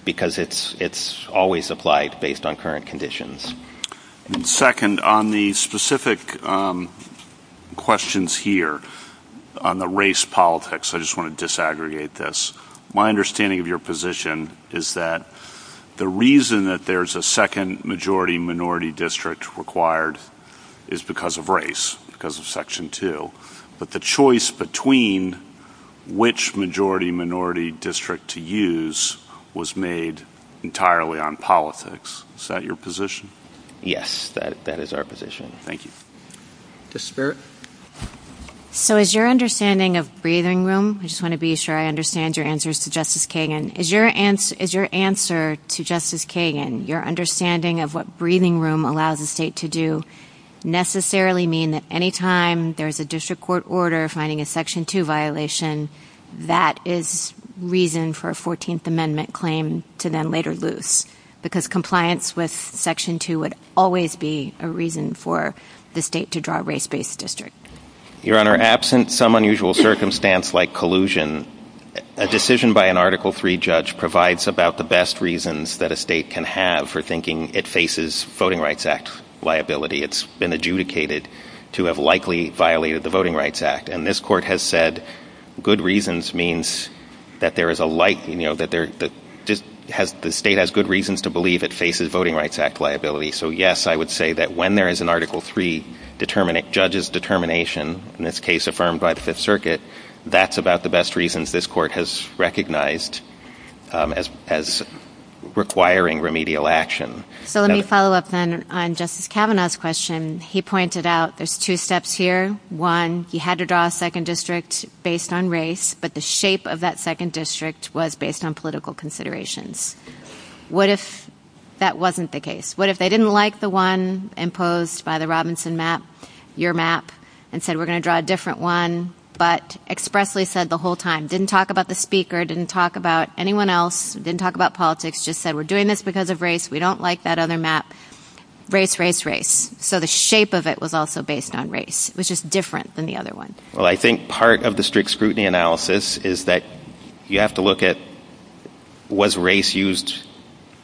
because it's always applied based on current conditions. Second, on the specific questions here, on the race politics, I just want to disaggregate this. My understanding of your position is that the reason that there's a second majority-minority district required is because of race, because of Section 2. But the choice between which majority-minority district to use was made entirely on politics. Is that your position? Yes, that is our position. Thank you. Ms. Spirit? So is your understanding of breathing room—I just want to be sure I understand your answers to Justice Kagan— is your answer to Justice Kagan, your understanding of what breathing room allows a state to do, necessarily mean that any time there's a district court order finding a Section 2 violation, that is reason for a 14th Amendment claim to then later lose? Because compliance with Section 2 would always be a reason for the state to draw a race-based district. Your Honor, absent some unusual circumstance like collusion, a decision by an Article III judge provides about the best reasons that a state can have for thinking it faces Voting Rights Act liability. It's been adjudicated to have likely violated the Voting Rights Act. And this Court has said good reasons means that the state has good reasons to believe it faces Voting Rights Act liability. So yes, I would say that when there is an Article III judge's determination, in this case affirmed by the Fifth Circuit, that's about the best reasons this Court has recognized as requiring remedial action. So let me follow up then on Justice Kavanaugh's question. He pointed out there's two steps here. One, he had to draw a second district based on race, but the shape of that second district was based on political considerations. What if that wasn't the case? What if they didn't like the one imposed by the Robinson map, your map, and said we're going to draw a different one, but expressly said the whole time, didn't talk about the speaker, didn't talk about anyone else, didn't talk about politics, just said we're doing this because of race, we don't like that other map, race, race, race. So the shape of it was also based on race. It was just different than the other ones. Well, I think part of the strict scrutiny analysis is that you have to look at was race used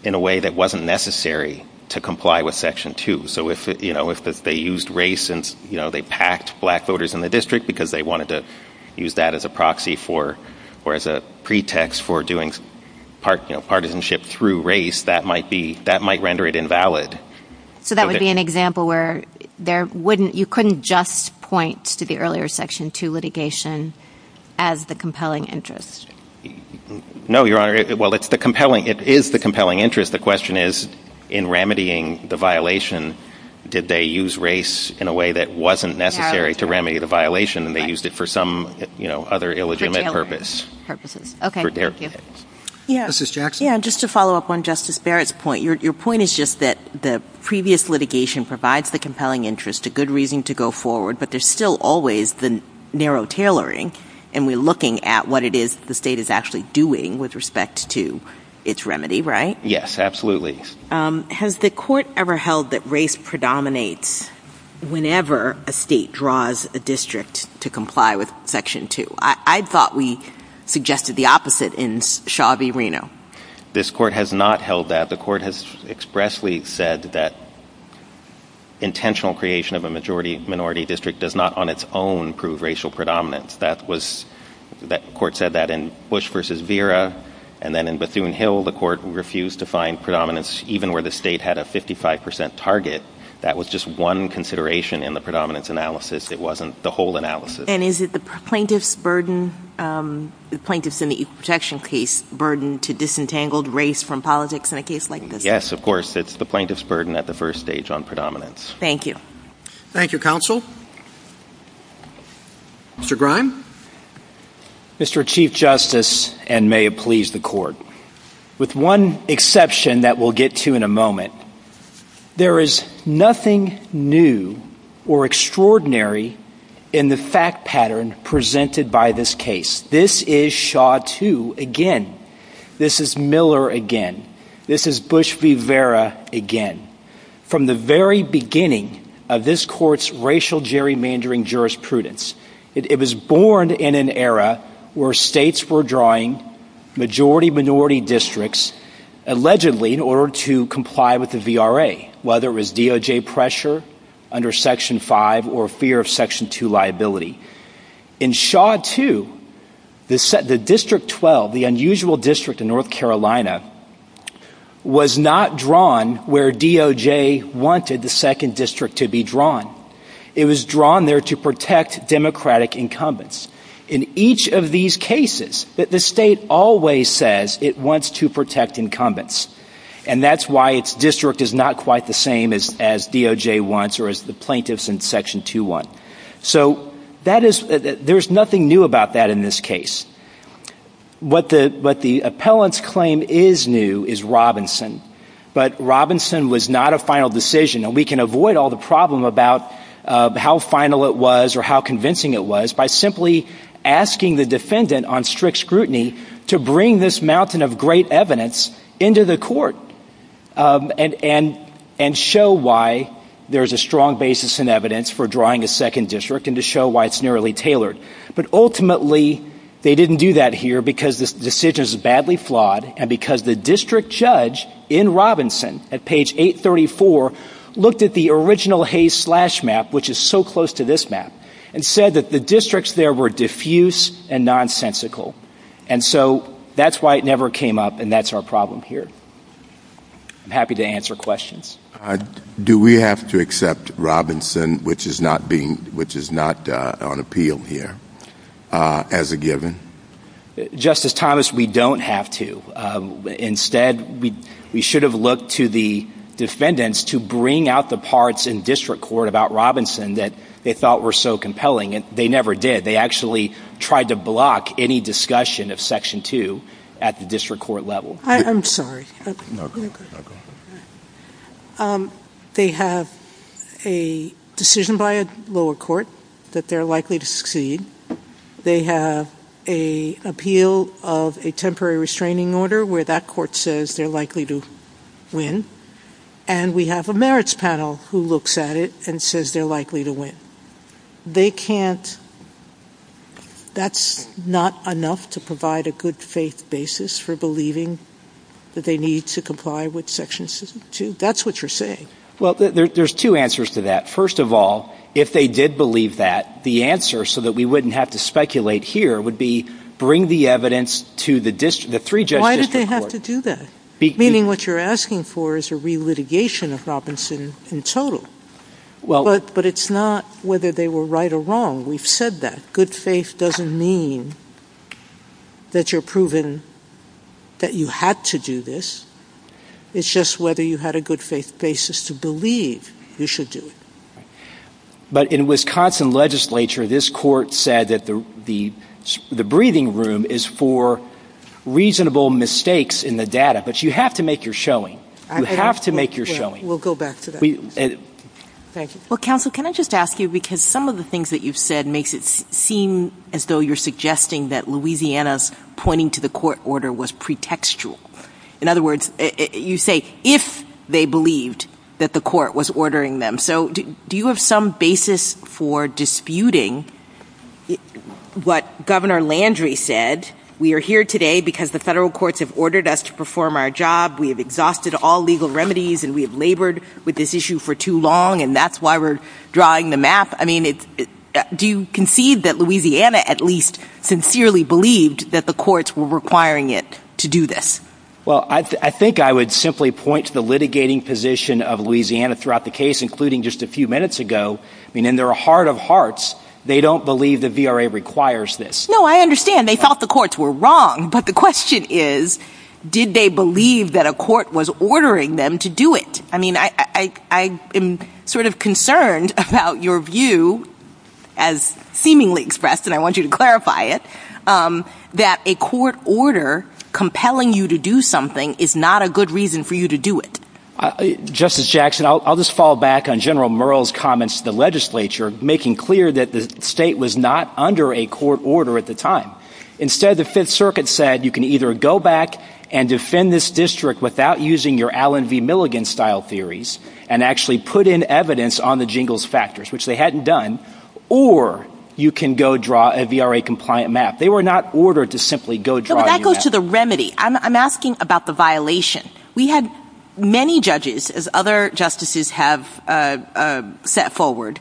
in a way that wasn't necessary to comply with Section 2. So if they used race and they packed black voters in the district because they wanted to use that as a proxy for, or as a pretext for doing partisanship through race, that might render it invalid. So that would be an example where you couldn't just point to the earlier Section 2 litigation as the compelling interest. No, Your Honor. Well, it is the compelling interest. The question is, in remedying the violation, did they use race in a way that wasn't necessary to remedy the violation and they used it for some other illegitimate purpose. Justice Jackson. Yeah, just to follow up on Justice Barrett's point. Your point is just that the previous litigation provides the compelling interest, a good reason to go forward, but there's still always the narrow tailoring and we're looking at what it is the state is actually doing with respect to its remedy, right? Yes, absolutely. Has the court ever held that race predominates whenever a state draws a district to comply with Section 2? I thought we suggested the opposite in Chavez-Reno. This court has not held that. The court has expressly said that intentional creation of a minority district does not on its own prove racial predominance. The court said that in Bush v. Vera and then in Bethune-Hill, the court refused to find predominance even where the state had a 55% target. That was just one consideration in the predominance analysis. It wasn't the whole analysis. And is it the plaintiff's burden to disentangle race from politics in a case like this? Yes, of course. It's the plaintiff's burden at the first stage on predominance. Thank you. Thank you, counsel. Mr. Grime. Mr. Chief Justice, and may it please the court, with one exception that we'll get to in a moment, there is nothing new or extraordinary in the fact pattern presented by this case. This is Shaw II again. This is Miller again. This is Bush v. Vera again. This is a case that was drawn from the very beginning of this court's racial gerrymandering jurisprudence. It was born in an era where states were drawing majority-minority districts allegedly in order to comply with the VRA, whether it was DOJ pressure under Section 5 or fear of Section 2 liability. In Shaw II, the District 12, the unusual district in North Carolina, was not drawn where DOJ wanted the second district to be drawn. It was drawn there to protect Democratic incumbents. In each of these cases, the state always says it wants to protect incumbents. And that's why its district is not quite the same as DOJ wants or as the plaintiffs in Section 2 want. So there's nothing new about that in this case. What the appellants claim is new is Robinson, but Robinson was not a final decision. And we can avoid all the problem about how final it was or how convincing it was by simply asking the defendant on strict scrutiny to bring this mountain of great evidence into the court and show why there's a strong basis in evidence for drawing a second district and to show why it's narrowly tailored. But ultimately, they didn't do that here because the decision is badly flawed and because the district judge in Robinson at page 834 looked at the original Hayes-Slash map, which is so close to this map, and said that the districts there were diffuse and nonsensical. And so that's why it never came up, and that's our problem here. I'm happy to answer questions. Do we have to accept Robinson, which is not on appeal here, as a given? Justice Thomas, we don't have to. Instead, we should have looked to the defendants to bring out the parts in district court about Robinson that they thought were so compelling, and they never did. They actually tried to block any discussion of section 2 at the district court level. I'm sorry. They have a decision by a lower court that they're likely to succeed. They have an appeal of a temporary restraining order where that court says they're likely to win. And we have a merits panel who looks at it and says they're likely to win. They can't – that's not enough to provide a good faith basis for believing that they need to comply with section 2. That's what you're saying. Well, there's two answers to that. First of all, if they did believe that, the answer, so that we wouldn't have to speculate here, would be bring the evidence to the three-judge district court. Why did they have to do that? Meaning what you're asking for is a re-litigation of Robinson in total. But it's not whether they were right or wrong. We've said that. Good faith doesn't mean that you're proving that you had to do this. It's just whether you had a good faith basis to believe you should do it. But in Wisconsin legislature, this court said that the breathing room is for reasonable mistakes in the data. But you have to make your showing. You have to make your showing. We'll go back to that. Thank you. Well, counsel, can I just ask you, because some of the things that you've said makes it seem as though you're suggesting that Louisiana's pointing to the court order was pretextual. In other words, you say if they believed that the court was ordering them. So do you have some basis for disputing what Governor Landry said? We are here today because the federal courts have ordered us to perform our job. We have exhausted all legal remedies, and we have labored with this issue for too long, and that's why we're drawing the map. I mean, do you concede that Louisiana at least sincerely believed that the courts were requiring it to do this? Well, I think I would simply point to the litigating position of Louisiana throughout the case, including just a few minutes ago. I mean, in their heart of hearts, they don't believe the VRA requires this. No, I understand. They thought the courts were wrong, but the question is, did they believe that a court was ordering them to do it? I mean, I am sort of concerned about your view as seemingly expressed, and I want you to clarify it, that a court order compelling you to do something is not a good reason for you to do it. Justice Jackson, I'll just fall back on General Merrill's comments to the legislature, making clear that the state was not under a court order at the time. Instead, the Fifth Circuit said you can either go back and defend this district without using your Allen v. Milligan-style theories, and actually put in evidence on the jingles factors, which they hadn't done, or you can go draw a VRA-compliant map. They were not ordered to simply go draw a map. That goes to the remedy. I'm asking about the violation. We had many judges, as other justices have set forward,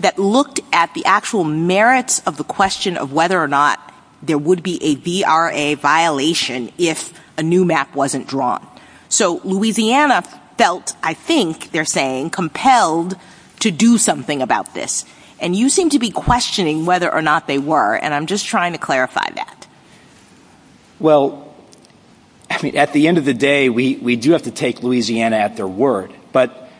that looked at the actual merits of the question of whether or not there would be a VRA violation if a new map wasn't drawn. So Louisiana felt, I think they're saying, compelled to do something about this. And you seem to be questioning whether or not they were, and I'm just trying to clarify that. Well, at the end of the day, we do have to take Louisiana at their word. But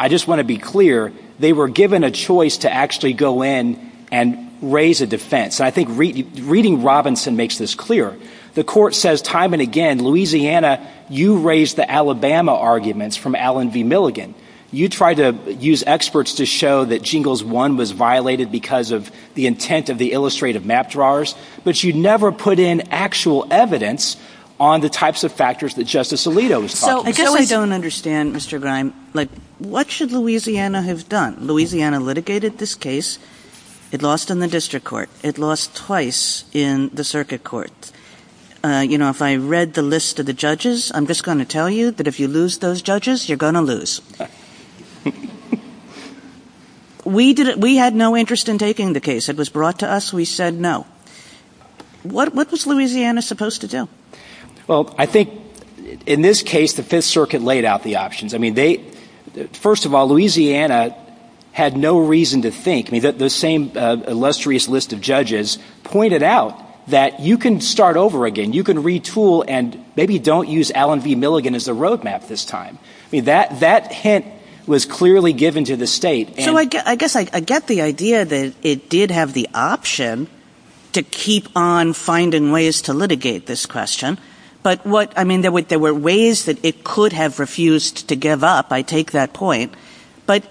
I just want to be clear, they were given a choice to actually go in and raise a defense. And I think reading Robinson makes this clear. The court says time and again, Louisiana, you raised the Alabama arguments from Allen v. Milligan. You try to use experts to show that jingles one was violated because of the intent of the illustrative map drawers. But you never put in actual evidence on the types of factors that Justice Alito was talking about. I guess I don't understand, Mr. Grime, what should Louisiana have done? Louisiana litigated this case. It lost in the district court. It lost twice in the circuit court. You know, if I read the list of the judges, I'm just going to tell you, but if you lose those judges, you're going to lose. We had no interest in taking the case. It was brought to us. We said no. What was Louisiana supposed to do? Well, I think in this case, the Fifth Circuit laid out the options. I mean, first of all, Louisiana had no reason to think. The same illustrious list of judges pointed out that you can start over again. You can retool and maybe don't use Allen v. Milligan as the roadmap this time. That hint was clearly given to the state. I guess I get the idea that it did have the option to keep on finding ways to litigate this question. But there were ways that it could have refused to give up. I take that point. But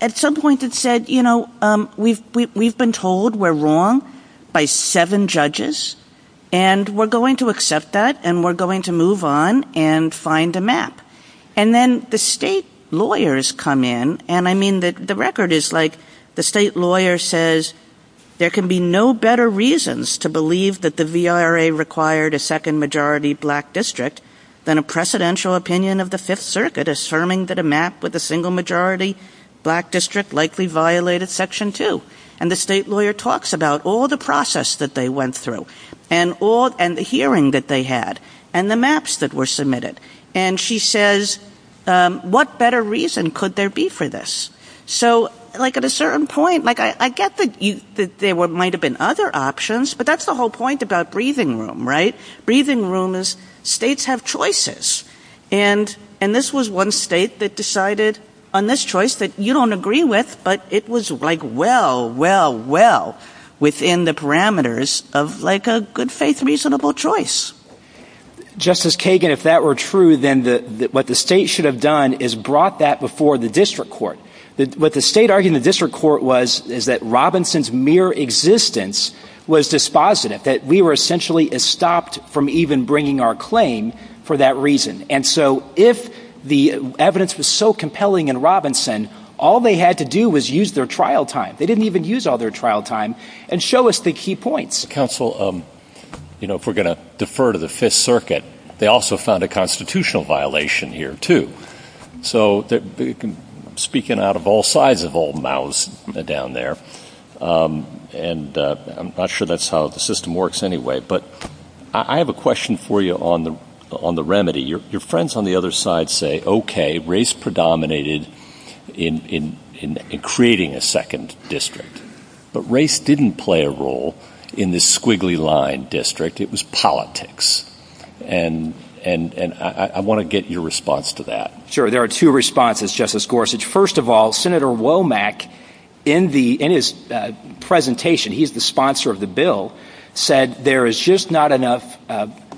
at some point it said, you know, we've been told we're wrong by seven judges. And we're going to accept that. And we're going to move on and find a map. And then the state lawyers come in. And I mean, the record is like the state lawyer says there can be no better reasons to believe that the VRA required a second-majority black district than a precedential opinion of the Fifth Circuit asserting that a map with a single-majority black district likely violated Section 2. And the state lawyer talks about all the process that they went through and the hearing that they had and the maps that were submitted. And she says, what better reason could there be for this? So like at a certain point, like I get that there might have been other options. But that's the whole point about breathing room, right? Breathing room is states have choices. And this was one state that decided on this choice that you don't agree with. But it was like well, well, well within the parameters of like a good-faith reasonable choice. Justice Kagan, if that were true, then what the state should have done is brought that before the district court. What the state argued in the district court was is that Robinson's mere existence was dispositive, that we were essentially stopped from even bringing our claim for that reason. And so if the evidence was so compelling in Robinson, all they had to do was use their trial time. They didn't even use all their trial time and show us the key points. Mr. Counsel, if we're going to defer to the Fifth Circuit, they also found a constitutional violation here too. So speaking out of all sides of all mouths down there, and I'm not sure that's how the system works anyway. But I have a question for you on the remedy. Your friends on the other side say, okay, race predominated in creating a second district. But race didn't play a role in the squiggly line district. It was politics. And I want to get your response to that. Sure. There are two responses, Justice Gorsuch. First of all, Senator Womack, in his presentation, he's the sponsor of the bill, said there is just not enough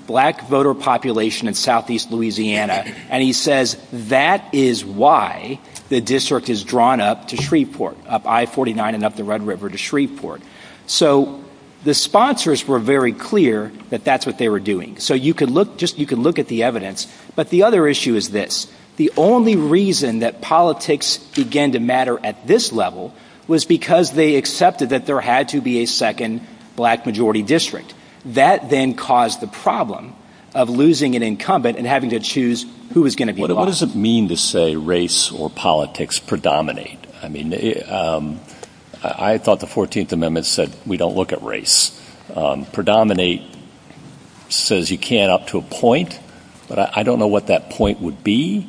black voter population in southeast Louisiana. And he says that is why the district is drawn up to Shreveport, up I-49 and up the Red River to Shreveport. So the sponsors were very clear that that's what they were doing. So you can look at the evidence. But the other issue is this. The only reason that politics began to matter at this level was because they accepted that there had to be a second black majority district. That then caused the problem of losing an incumbent and having to choose who was going to be lost. What does it mean to say race or politics predominate? I mean, I thought the 14th Amendment said we don't look at race. Predominate says you can't up to a point. But I don't know what that point would be.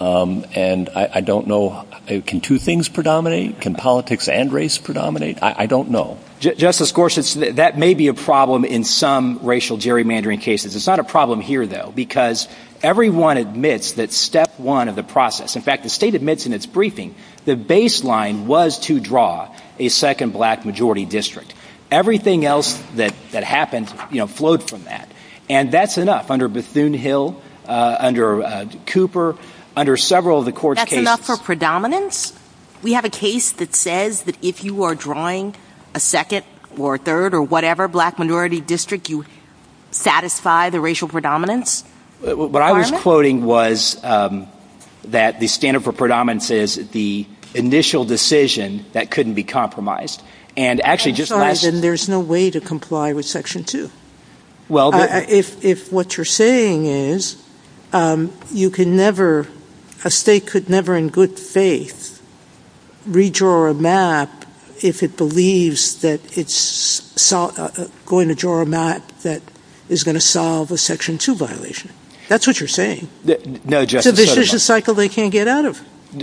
And I don't know, can two things predominate? Can politics and race predominate? I don't know. Justice Gorsuch, that may be a problem in some racial gerrymandering cases. It's not a problem here, though, because everyone admits that step one of the process, in fact, the state admits in its briefing the baseline was to draw a second black majority district. Everything else that happened, you know, flowed from that. And that's enough under Bethune-Hill, under Cooper, under several of the court's cases. That's enough for predominance? Justice Gorsuch, we have a case that says that if you are drawing a second or a third or whatever black minority district, you satisfy the racial predominance? What I was quoting was that the standard for predominance is the initial decision that couldn't be compromised. And actually just last... I'm sorry, then there's no way to comply with Section 2. If what you're saying is you can never, a state could never in good faith redraw a map if it believes that it's going to draw a map that is going to solve a Section 2 violation. That's what you're saying. No, Justice Sotomayor. So this is a cycle they can't get out of.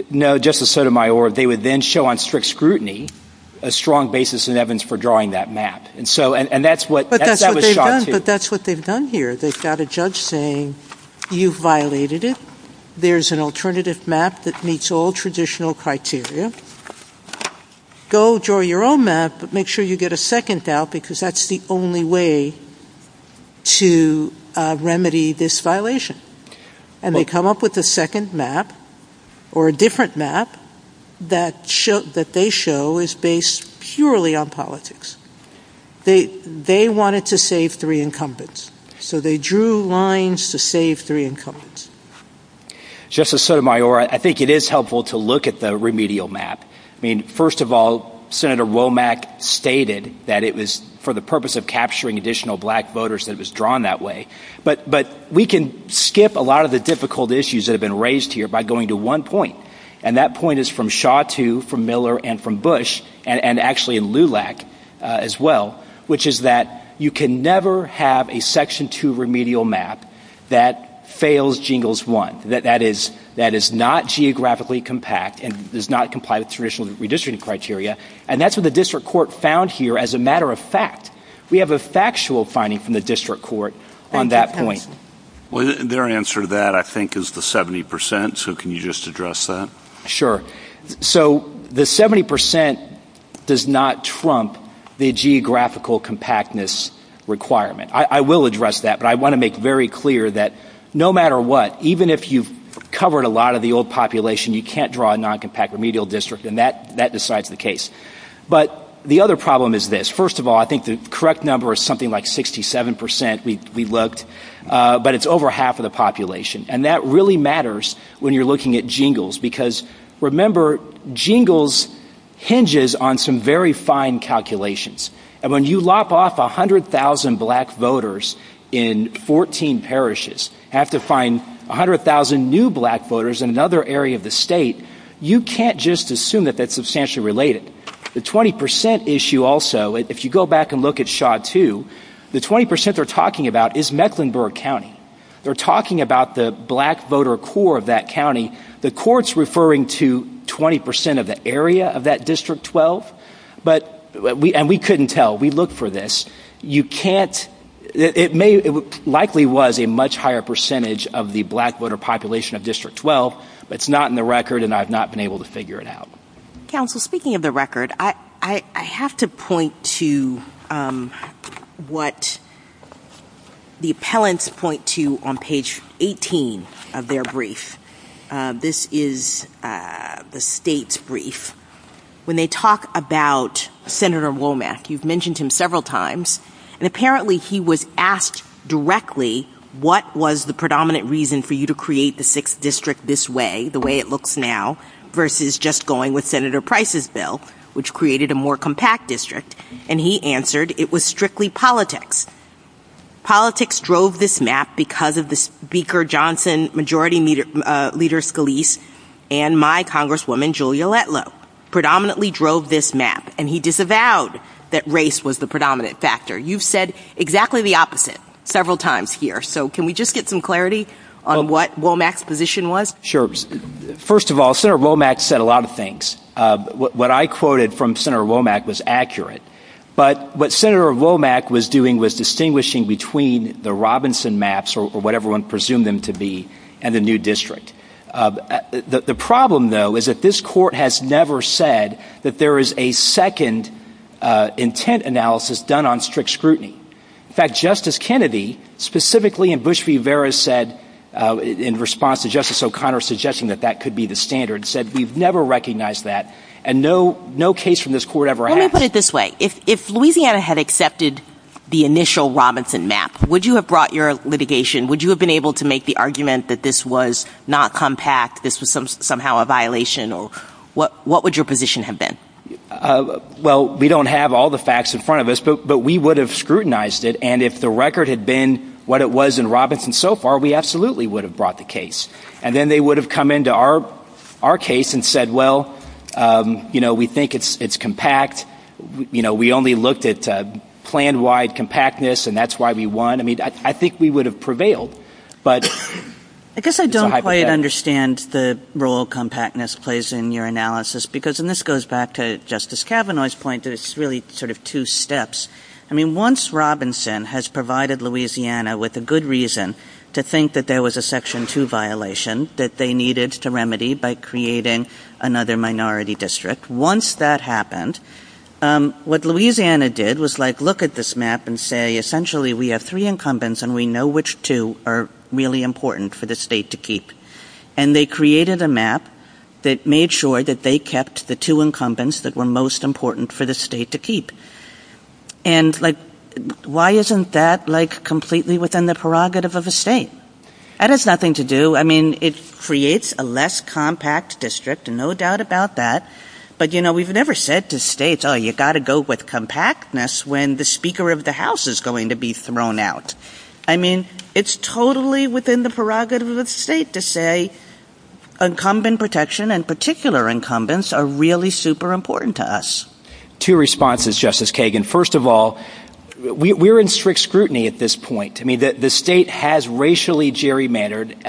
No, Justice Sotomayor, they would then show on strict scrutiny a strong basis in evidence for drawing that map. But that's what they've done here. They've got a judge saying, you've violated it. There's an alternative map that meets all traditional criteria. Go draw your own map, but make sure you get a second out because that's the only way to remedy this violation. And they come up with a second map or a different map that they show is based purely on politics. They wanted to save three incumbents, so they drew lines to save three incumbents. Justice Sotomayor, I think it is helpful to look at the remedial map. I mean, first of all, Senator Womack stated that it was for the purpose of capturing additional black voters that it was drawn that way. But we can skip a lot of the difficult issues that have been raised here by going to one point, and that point is from Shaw too, from Miller, and from Bush, and actually in LULAC as well, which is that you can never have a Section 2 remedial map that fails Jingles 1, that is not geographically compact and does not comply with traditional redistricting criteria, and that's what the district court found here as a matter of fact. We have a factual finding from the district court on that point. Their answer to that, I think, is the 70 percent, so can you just address that? Sure. So the 70 percent does not trump the geographical compactness requirement. I will address that, but I want to make very clear that no matter what, even if you've covered a lot of the old population, you can't draw a non-compact remedial district, and that decides the case. But the other problem is this. First of all, I think the correct number is something like 67 percent, we looked, but it's over half of the population, and that really matters when you're looking at Jingles, because remember, Jingles hinges on some very fine calculations, and when you lop off 100,000 black voters in 14 parishes, you have to find 100,000 new black voters in another area of the state, you can't just assume that that's substantially related. The 20 percent issue also, if you go back and look at SHA-2, the 20 percent they're talking about is Mecklenburg County. They're talking about the black voter core of that county. The court's referring to 20 percent of the area of that District 12, and we couldn't tell, we looked for this. It likely was a much higher percentage of the black voter population of District 12, but it's not in the record, and I've not been able to figure it out. Counsel, speaking of the record, I have to point to what the appellants point to on page 18 of their brief. This is the state's brief. When they talk about Senator Womack, you've mentioned him several times, and apparently he was asked directly what was the predominant reason for you to create the 6th District this way, the way it looks now, versus just going with Senator Price's bill, which created a more compact district, and he answered it was strictly politics. Politics drove this map because of the Speaker Johnson, Majority Leader Scalise, and my Congresswoman, Julia Letlow. Predominantly drove this map, and he disavowed that race was the predominant factor. You've said exactly the opposite several times here, so can we just get some clarity on what Womack's position was? Sure. First of all, Senator Womack said a lot of things. What I quoted from Senator Womack was accurate, but what Senator Womack was doing was distinguishing between the Robinson maps, or what everyone presumed them to be, and the new district. The problem, though, is that this court has never said that there is a second intent analysis done on strict scrutiny. In fact, Justice Kennedy, specifically in Bush v. Vera, said, in response to Justice O'Connor suggesting that that could be the standard, said we've never recognized that, and no case from this court ever happened. Let me put it this way. If Louisiana had accepted the initial Robinson map, would you have brought your litigation, would you have been able to make the argument that this was not compact, this was somehow a violation, or what would your position have been? Well, we don't have all the facts in front of us, but we would have scrutinized it, and if the record had been what it was in Robinson so far, we absolutely would have brought the case. And then they would have come into our case and said, well, you know, we think it's compact. You know, we only looked at plan-wide compactness, and that's why we won. I mean, I think we would have prevailed, but... I guess I don't quite understand the role compactness plays in your analysis, because, and this goes back to Justice Kavanaugh's point that it's really sort of two steps. I mean, once Robinson has provided Louisiana with a good reason to think that there was a Section 2 violation that they needed to remedy by creating another minority district, once that happened, what Louisiana did was, like, look at this map and say, essentially, we have three incumbents, and we know which two are really important for the state to keep. And they created a map that made sure that they kept the two incumbents that were most important for the state to keep. And, like, why isn't that, like, completely within the prerogative of a state? That has nothing to do, I mean, it creates a less compact district, no doubt about that, but, you know, we've never said to states, oh, you've got to go with compactness when the Speaker of the House is going to be thrown out. I mean, it's totally within the prerogative of the state to say incumbent protection and particular incumbents are really super important to us. Two responses, Justice Kagan. First of all, we're in strict scrutiny at this point. I mean, the state has racially gerrymandered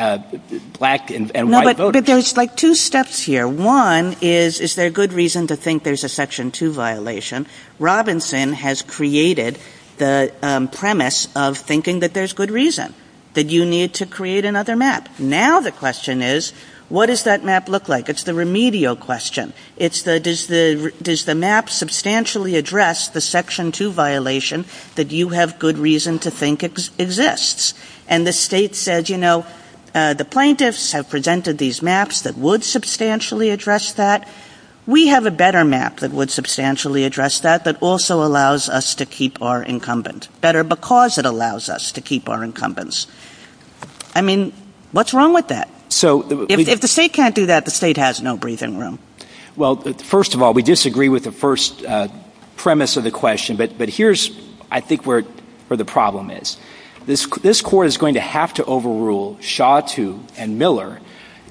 black and white voters. Look, there's, like, two steps here. One is, is there good reason to think there's a Section 2 violation? Robinson has created the premise of thinking that there's good reason, that you need to create another map. Now the question is, what does that map look like? It's the remedial question. It's the, does the map substantially address the Section 2 violation that you have good reason to think exists? And the state said, you know, the plaintiffs have presented these maps that would substantially address that. We have a better map that would substantially address that, that also allows us to keep our incumbent better because it allows us to keep our incumbents. I mean, what's wrong with that? If the state can't do that, the state has no breathing room. Well, first of all, we disagree with the first premise of the question, but here's, I think, where the problem is. This court is going to have to overrule Shaw 2 and Miller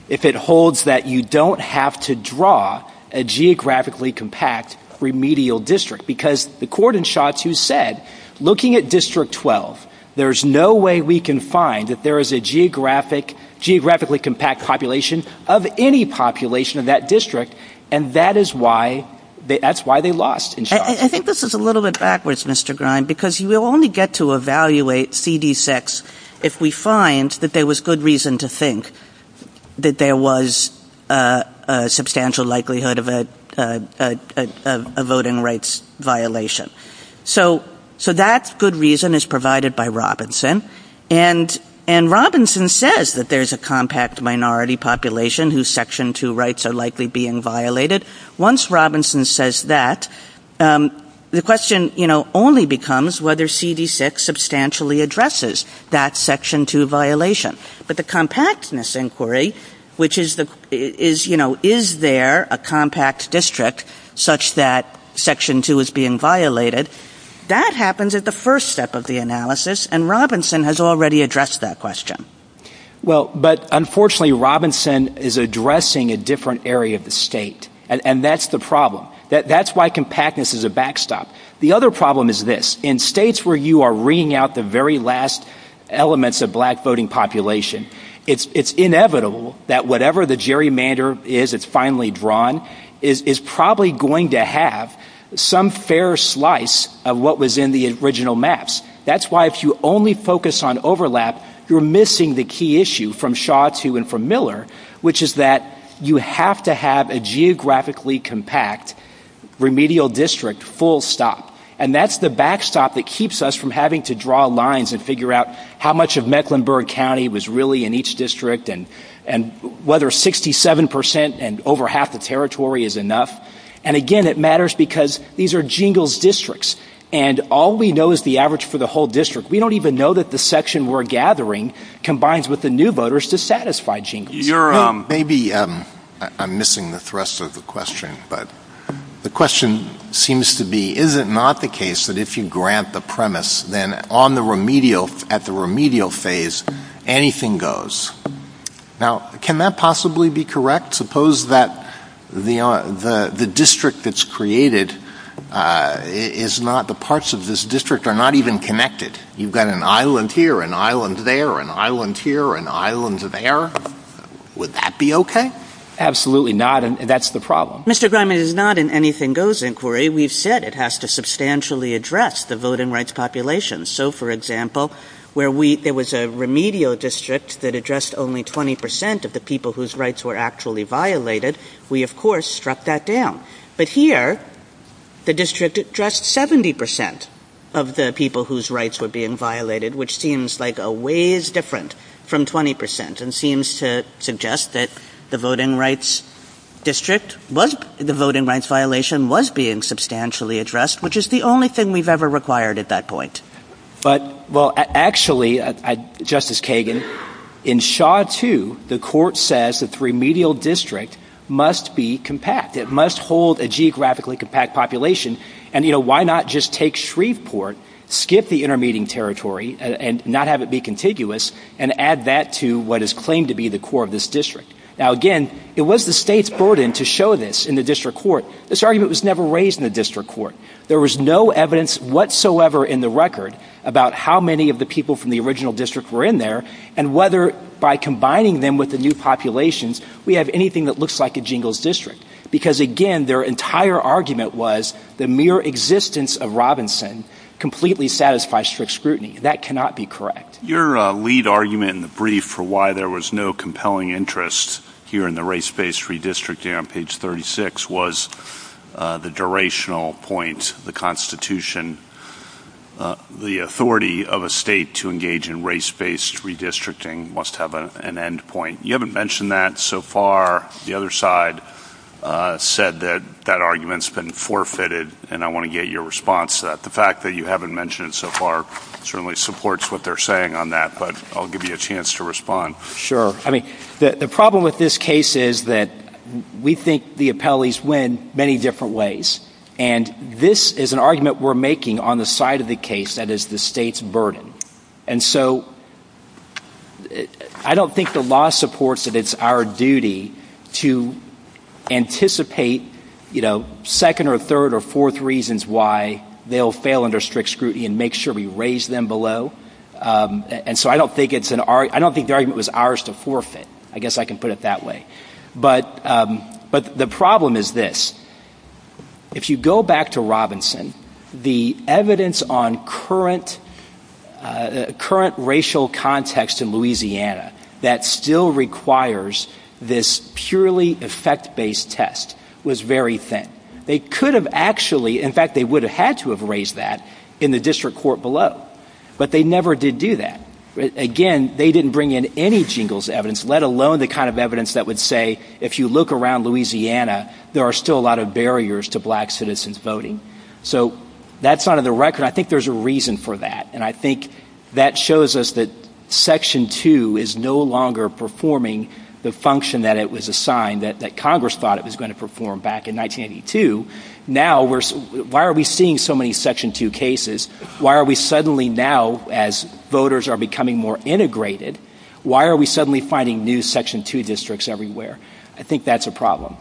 if it holds that you don't have to draw a geographically compact remedial district because the court in Shaw 2 said, looking at District 12, there's no way we can find that there is a geographically compact population of any population of that district, and that is why, that's why they lost in Shaw. I think this is a little bit backwards, Mr. Grine, because you will only get to evaluate CD6 if we find that there was good reason to think that there was a substantial likelihood of a voting rights violation. So that good reason is provided by Robinson, and Robinson says that there's a compact minority population whose Section 2 rights are likely being violated. Once Robinson says that, the question only becomes whether CD6 substantially addresses that Section 2 violation. But the compactness inquiry, which is, you know, is there a compact district such that Section 2 is being violated, that happens at the first step of the analysis, and Robinson has already addressed that question. Well, but unfortunately, Robinson is addressing a different area of the state, and that's the problem. That's why compactness is a backstop. The other problem is this. In states where you are reading out the very last elements of black voting population, it's inevitable that whatever the gerrymander is that's finally drawn is probably going to have some fair slice of what was in the original maps. That's why if you only focus on overlap, you're missing the key issue from Shaw to and from Miller, which is that you have to have a geographically compact remedial district full stop. And that's the backstop that keeps us from having to draw lines and figure out how much of Mecklenburg County was really in each district and whether 67% and over half the territory is enough. And again, it matters because these are jingles districts, and all we know is the average for the whole district. We don't even know that the section we're gathering combines with the new voters to satisfy jingles. Maybe I'm missing the thrust of the question, but the question seems to be, is it not the case that if you grant the premise, then at the remedial phase, anything goes? Now, can that possibly be correct? Suppose that the district that's created is not the parts of this district are not even connected. You've got an island here, an island there, an island here, an island there. Would that be okay? Absolutely not, and that's the problem. Mr. Griman, it is not an anything goes inquiry. We've said it has to substantially address the voting rights population. So, for example, where there was a remedial district that addressed only 20% of the people whose rights were actually violated, we, of course, struck that down. But here, the district addressed 70% of the people whose rights were being violated, which seems like a ways different from 20% and seems to suggest that the voting rights violation was being substantially addressed, which is the only thing we've ever required at that point. Well, actually, Justice Kagan, in Shaw 2, the court says that the remedial district must be compact. It must hold a geographically compact population. And, you know, why not just take Shreveport, skip the intermediate territory and not have it be contiguous and add that to what is claimed to be the core of this district? Now, again, it was the state's burden to show this in the district court. This argument was never raised in the district court. There was no evidence whatsoever in the record about how many of the people from the original district were in there and whether by combining them with the new populations, we have anything that looks like a jingles district. Because, again, their entire argument was the mere existence of Robinson completely satisfies strict scrutiny. That cannot be correct. Your lead argument in the brief for why there was no compelling interest here in the race-based redistricting on page 36 was the durational point, the Constitution. The authority of a state to engage in race-based redistricting must have an end point. You haven't mentioned that so far. The other side said that that argument's been forfeited, and I want to get your response to that. The fact that you haven't mentioned it so far certainly supports what they're saying on that, but I'll give you a chance to respond. Sure. I mean, the problem with this case is that we think the appellees win many different ways, and this is an argument we're making on the side of the case that is the state's burden. And so I don't think the law supports that it's our duty to anticipate, you know, second or third or fourth reasons why they'll fail under strict scrutiny and make sure we raise them below. And so I don't think the argument was ours to forfeit. I guess I can put it that way. But the problem is this. If you go back to Robinson, the evidence on current racial context in Louisiana that still requires this purely effect-based test was very thin. They could have actually, in fact, they would have had to have raised that in the district court below, but they never did do that. Again, they didn't bring in any jingles evidence, let alone the kind of evidence that would say if you look around Louisiana, there are still a lot of barriers to black citizens voting. So that's not on the record. I think there's a reason for that, and I think that shows us that Section 2 is no longer performing the function that it was assigned, that Congress thought it was going to perform back in 1982. Now, why are we seeing so many Section 2 cases? Why are we suddenly now, as voters are becoming more integrated, why are we suddenly finding new Section 2 districts everywhere? I think that's a problem.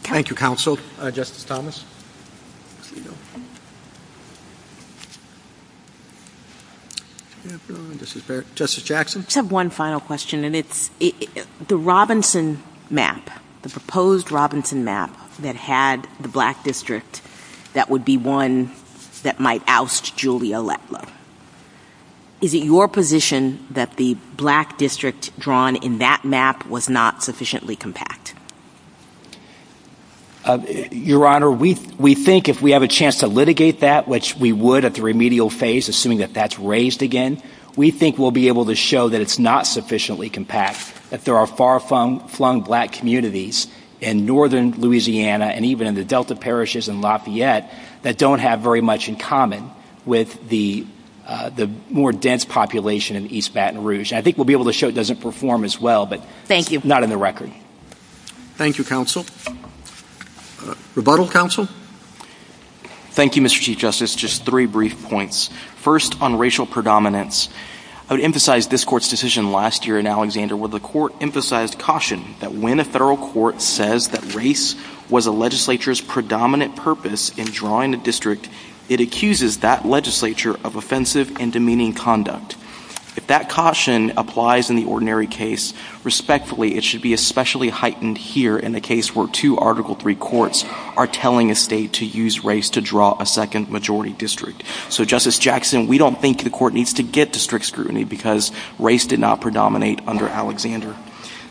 Thank you, counsel. Justice Thomas? Justice Jackson? I just have one final question, and it's the Robinson map, the proposed Robinson map that had the black district, that would be one that might oust Julia Letlow. Is it your position that the black district drawn in that map was not sufficiently compact? Your Honor, we think if we have a chance to litigate that, which we would at the remedial phase, assuming that that's raised again, we think we'll be able to show that it's not sufficiently compact, that there are far-flung black communities in northern Louisiana and even in the Delta parishes in Lafayette that don't have very much in common with the more dense population in East Baton Rouge. I think we'll be able to show it doesn't perform as well, but not on the record. Thank you, counsel. Rebuttal, counsel? Thank you, Mr. Chief Justice. Just three brief points. First, on racial predominance. I would emphasize this Court's decision last year in Alexander where the Court emphasized caution that when a federal court says that race was a legislature's predominant purpose in drawing a district, it accuses that legislature of offensive and demeaning conduct. If that caution applies in the ordinary case, respectfully it should be especially heightened here in the case where two Article III courts are telling a state to use race to draw a second-majority district. So, Justice Jackson, we don't think the Court needs to get to strict scrutiny because race did not predominate under Alexander.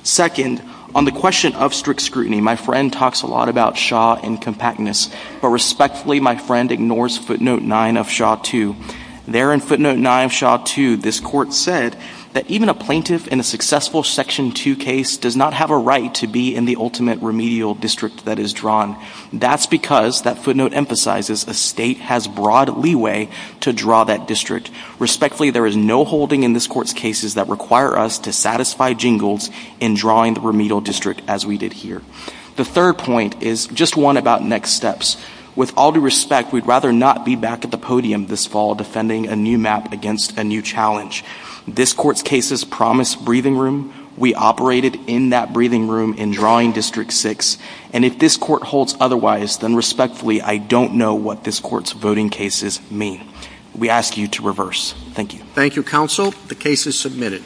Second, on the question of strict scrutiny, my friend talks a lot about Shaw and compactness, but respectfully my friend ignores footnote 9 of Shaw II. There in footnote 9 of Shaw II this Court said that even a plaintiff in a successful Section II case does not have a right to be in the ultimate remedial district that is drawn. That's because, that footnote emphasizes, a state has broad leeway to draw that district. Respectfully, there is no holding in this Court's cases that require us to satisfy jingles in drawing the remedial district as we did here. The third point is just one about next steps. With all due respect, we'd rather not be back at the podium this fall defending a new map against a new challenge. This Court's cases promise breathing room. We operated in that breathing room in drawing District 6, and if this Court holds otherwise, then respectfully, I don't know what this Court's voting cases mean. We ask you to reverse. Thank you. Thank you, Counsel. The case is submitted.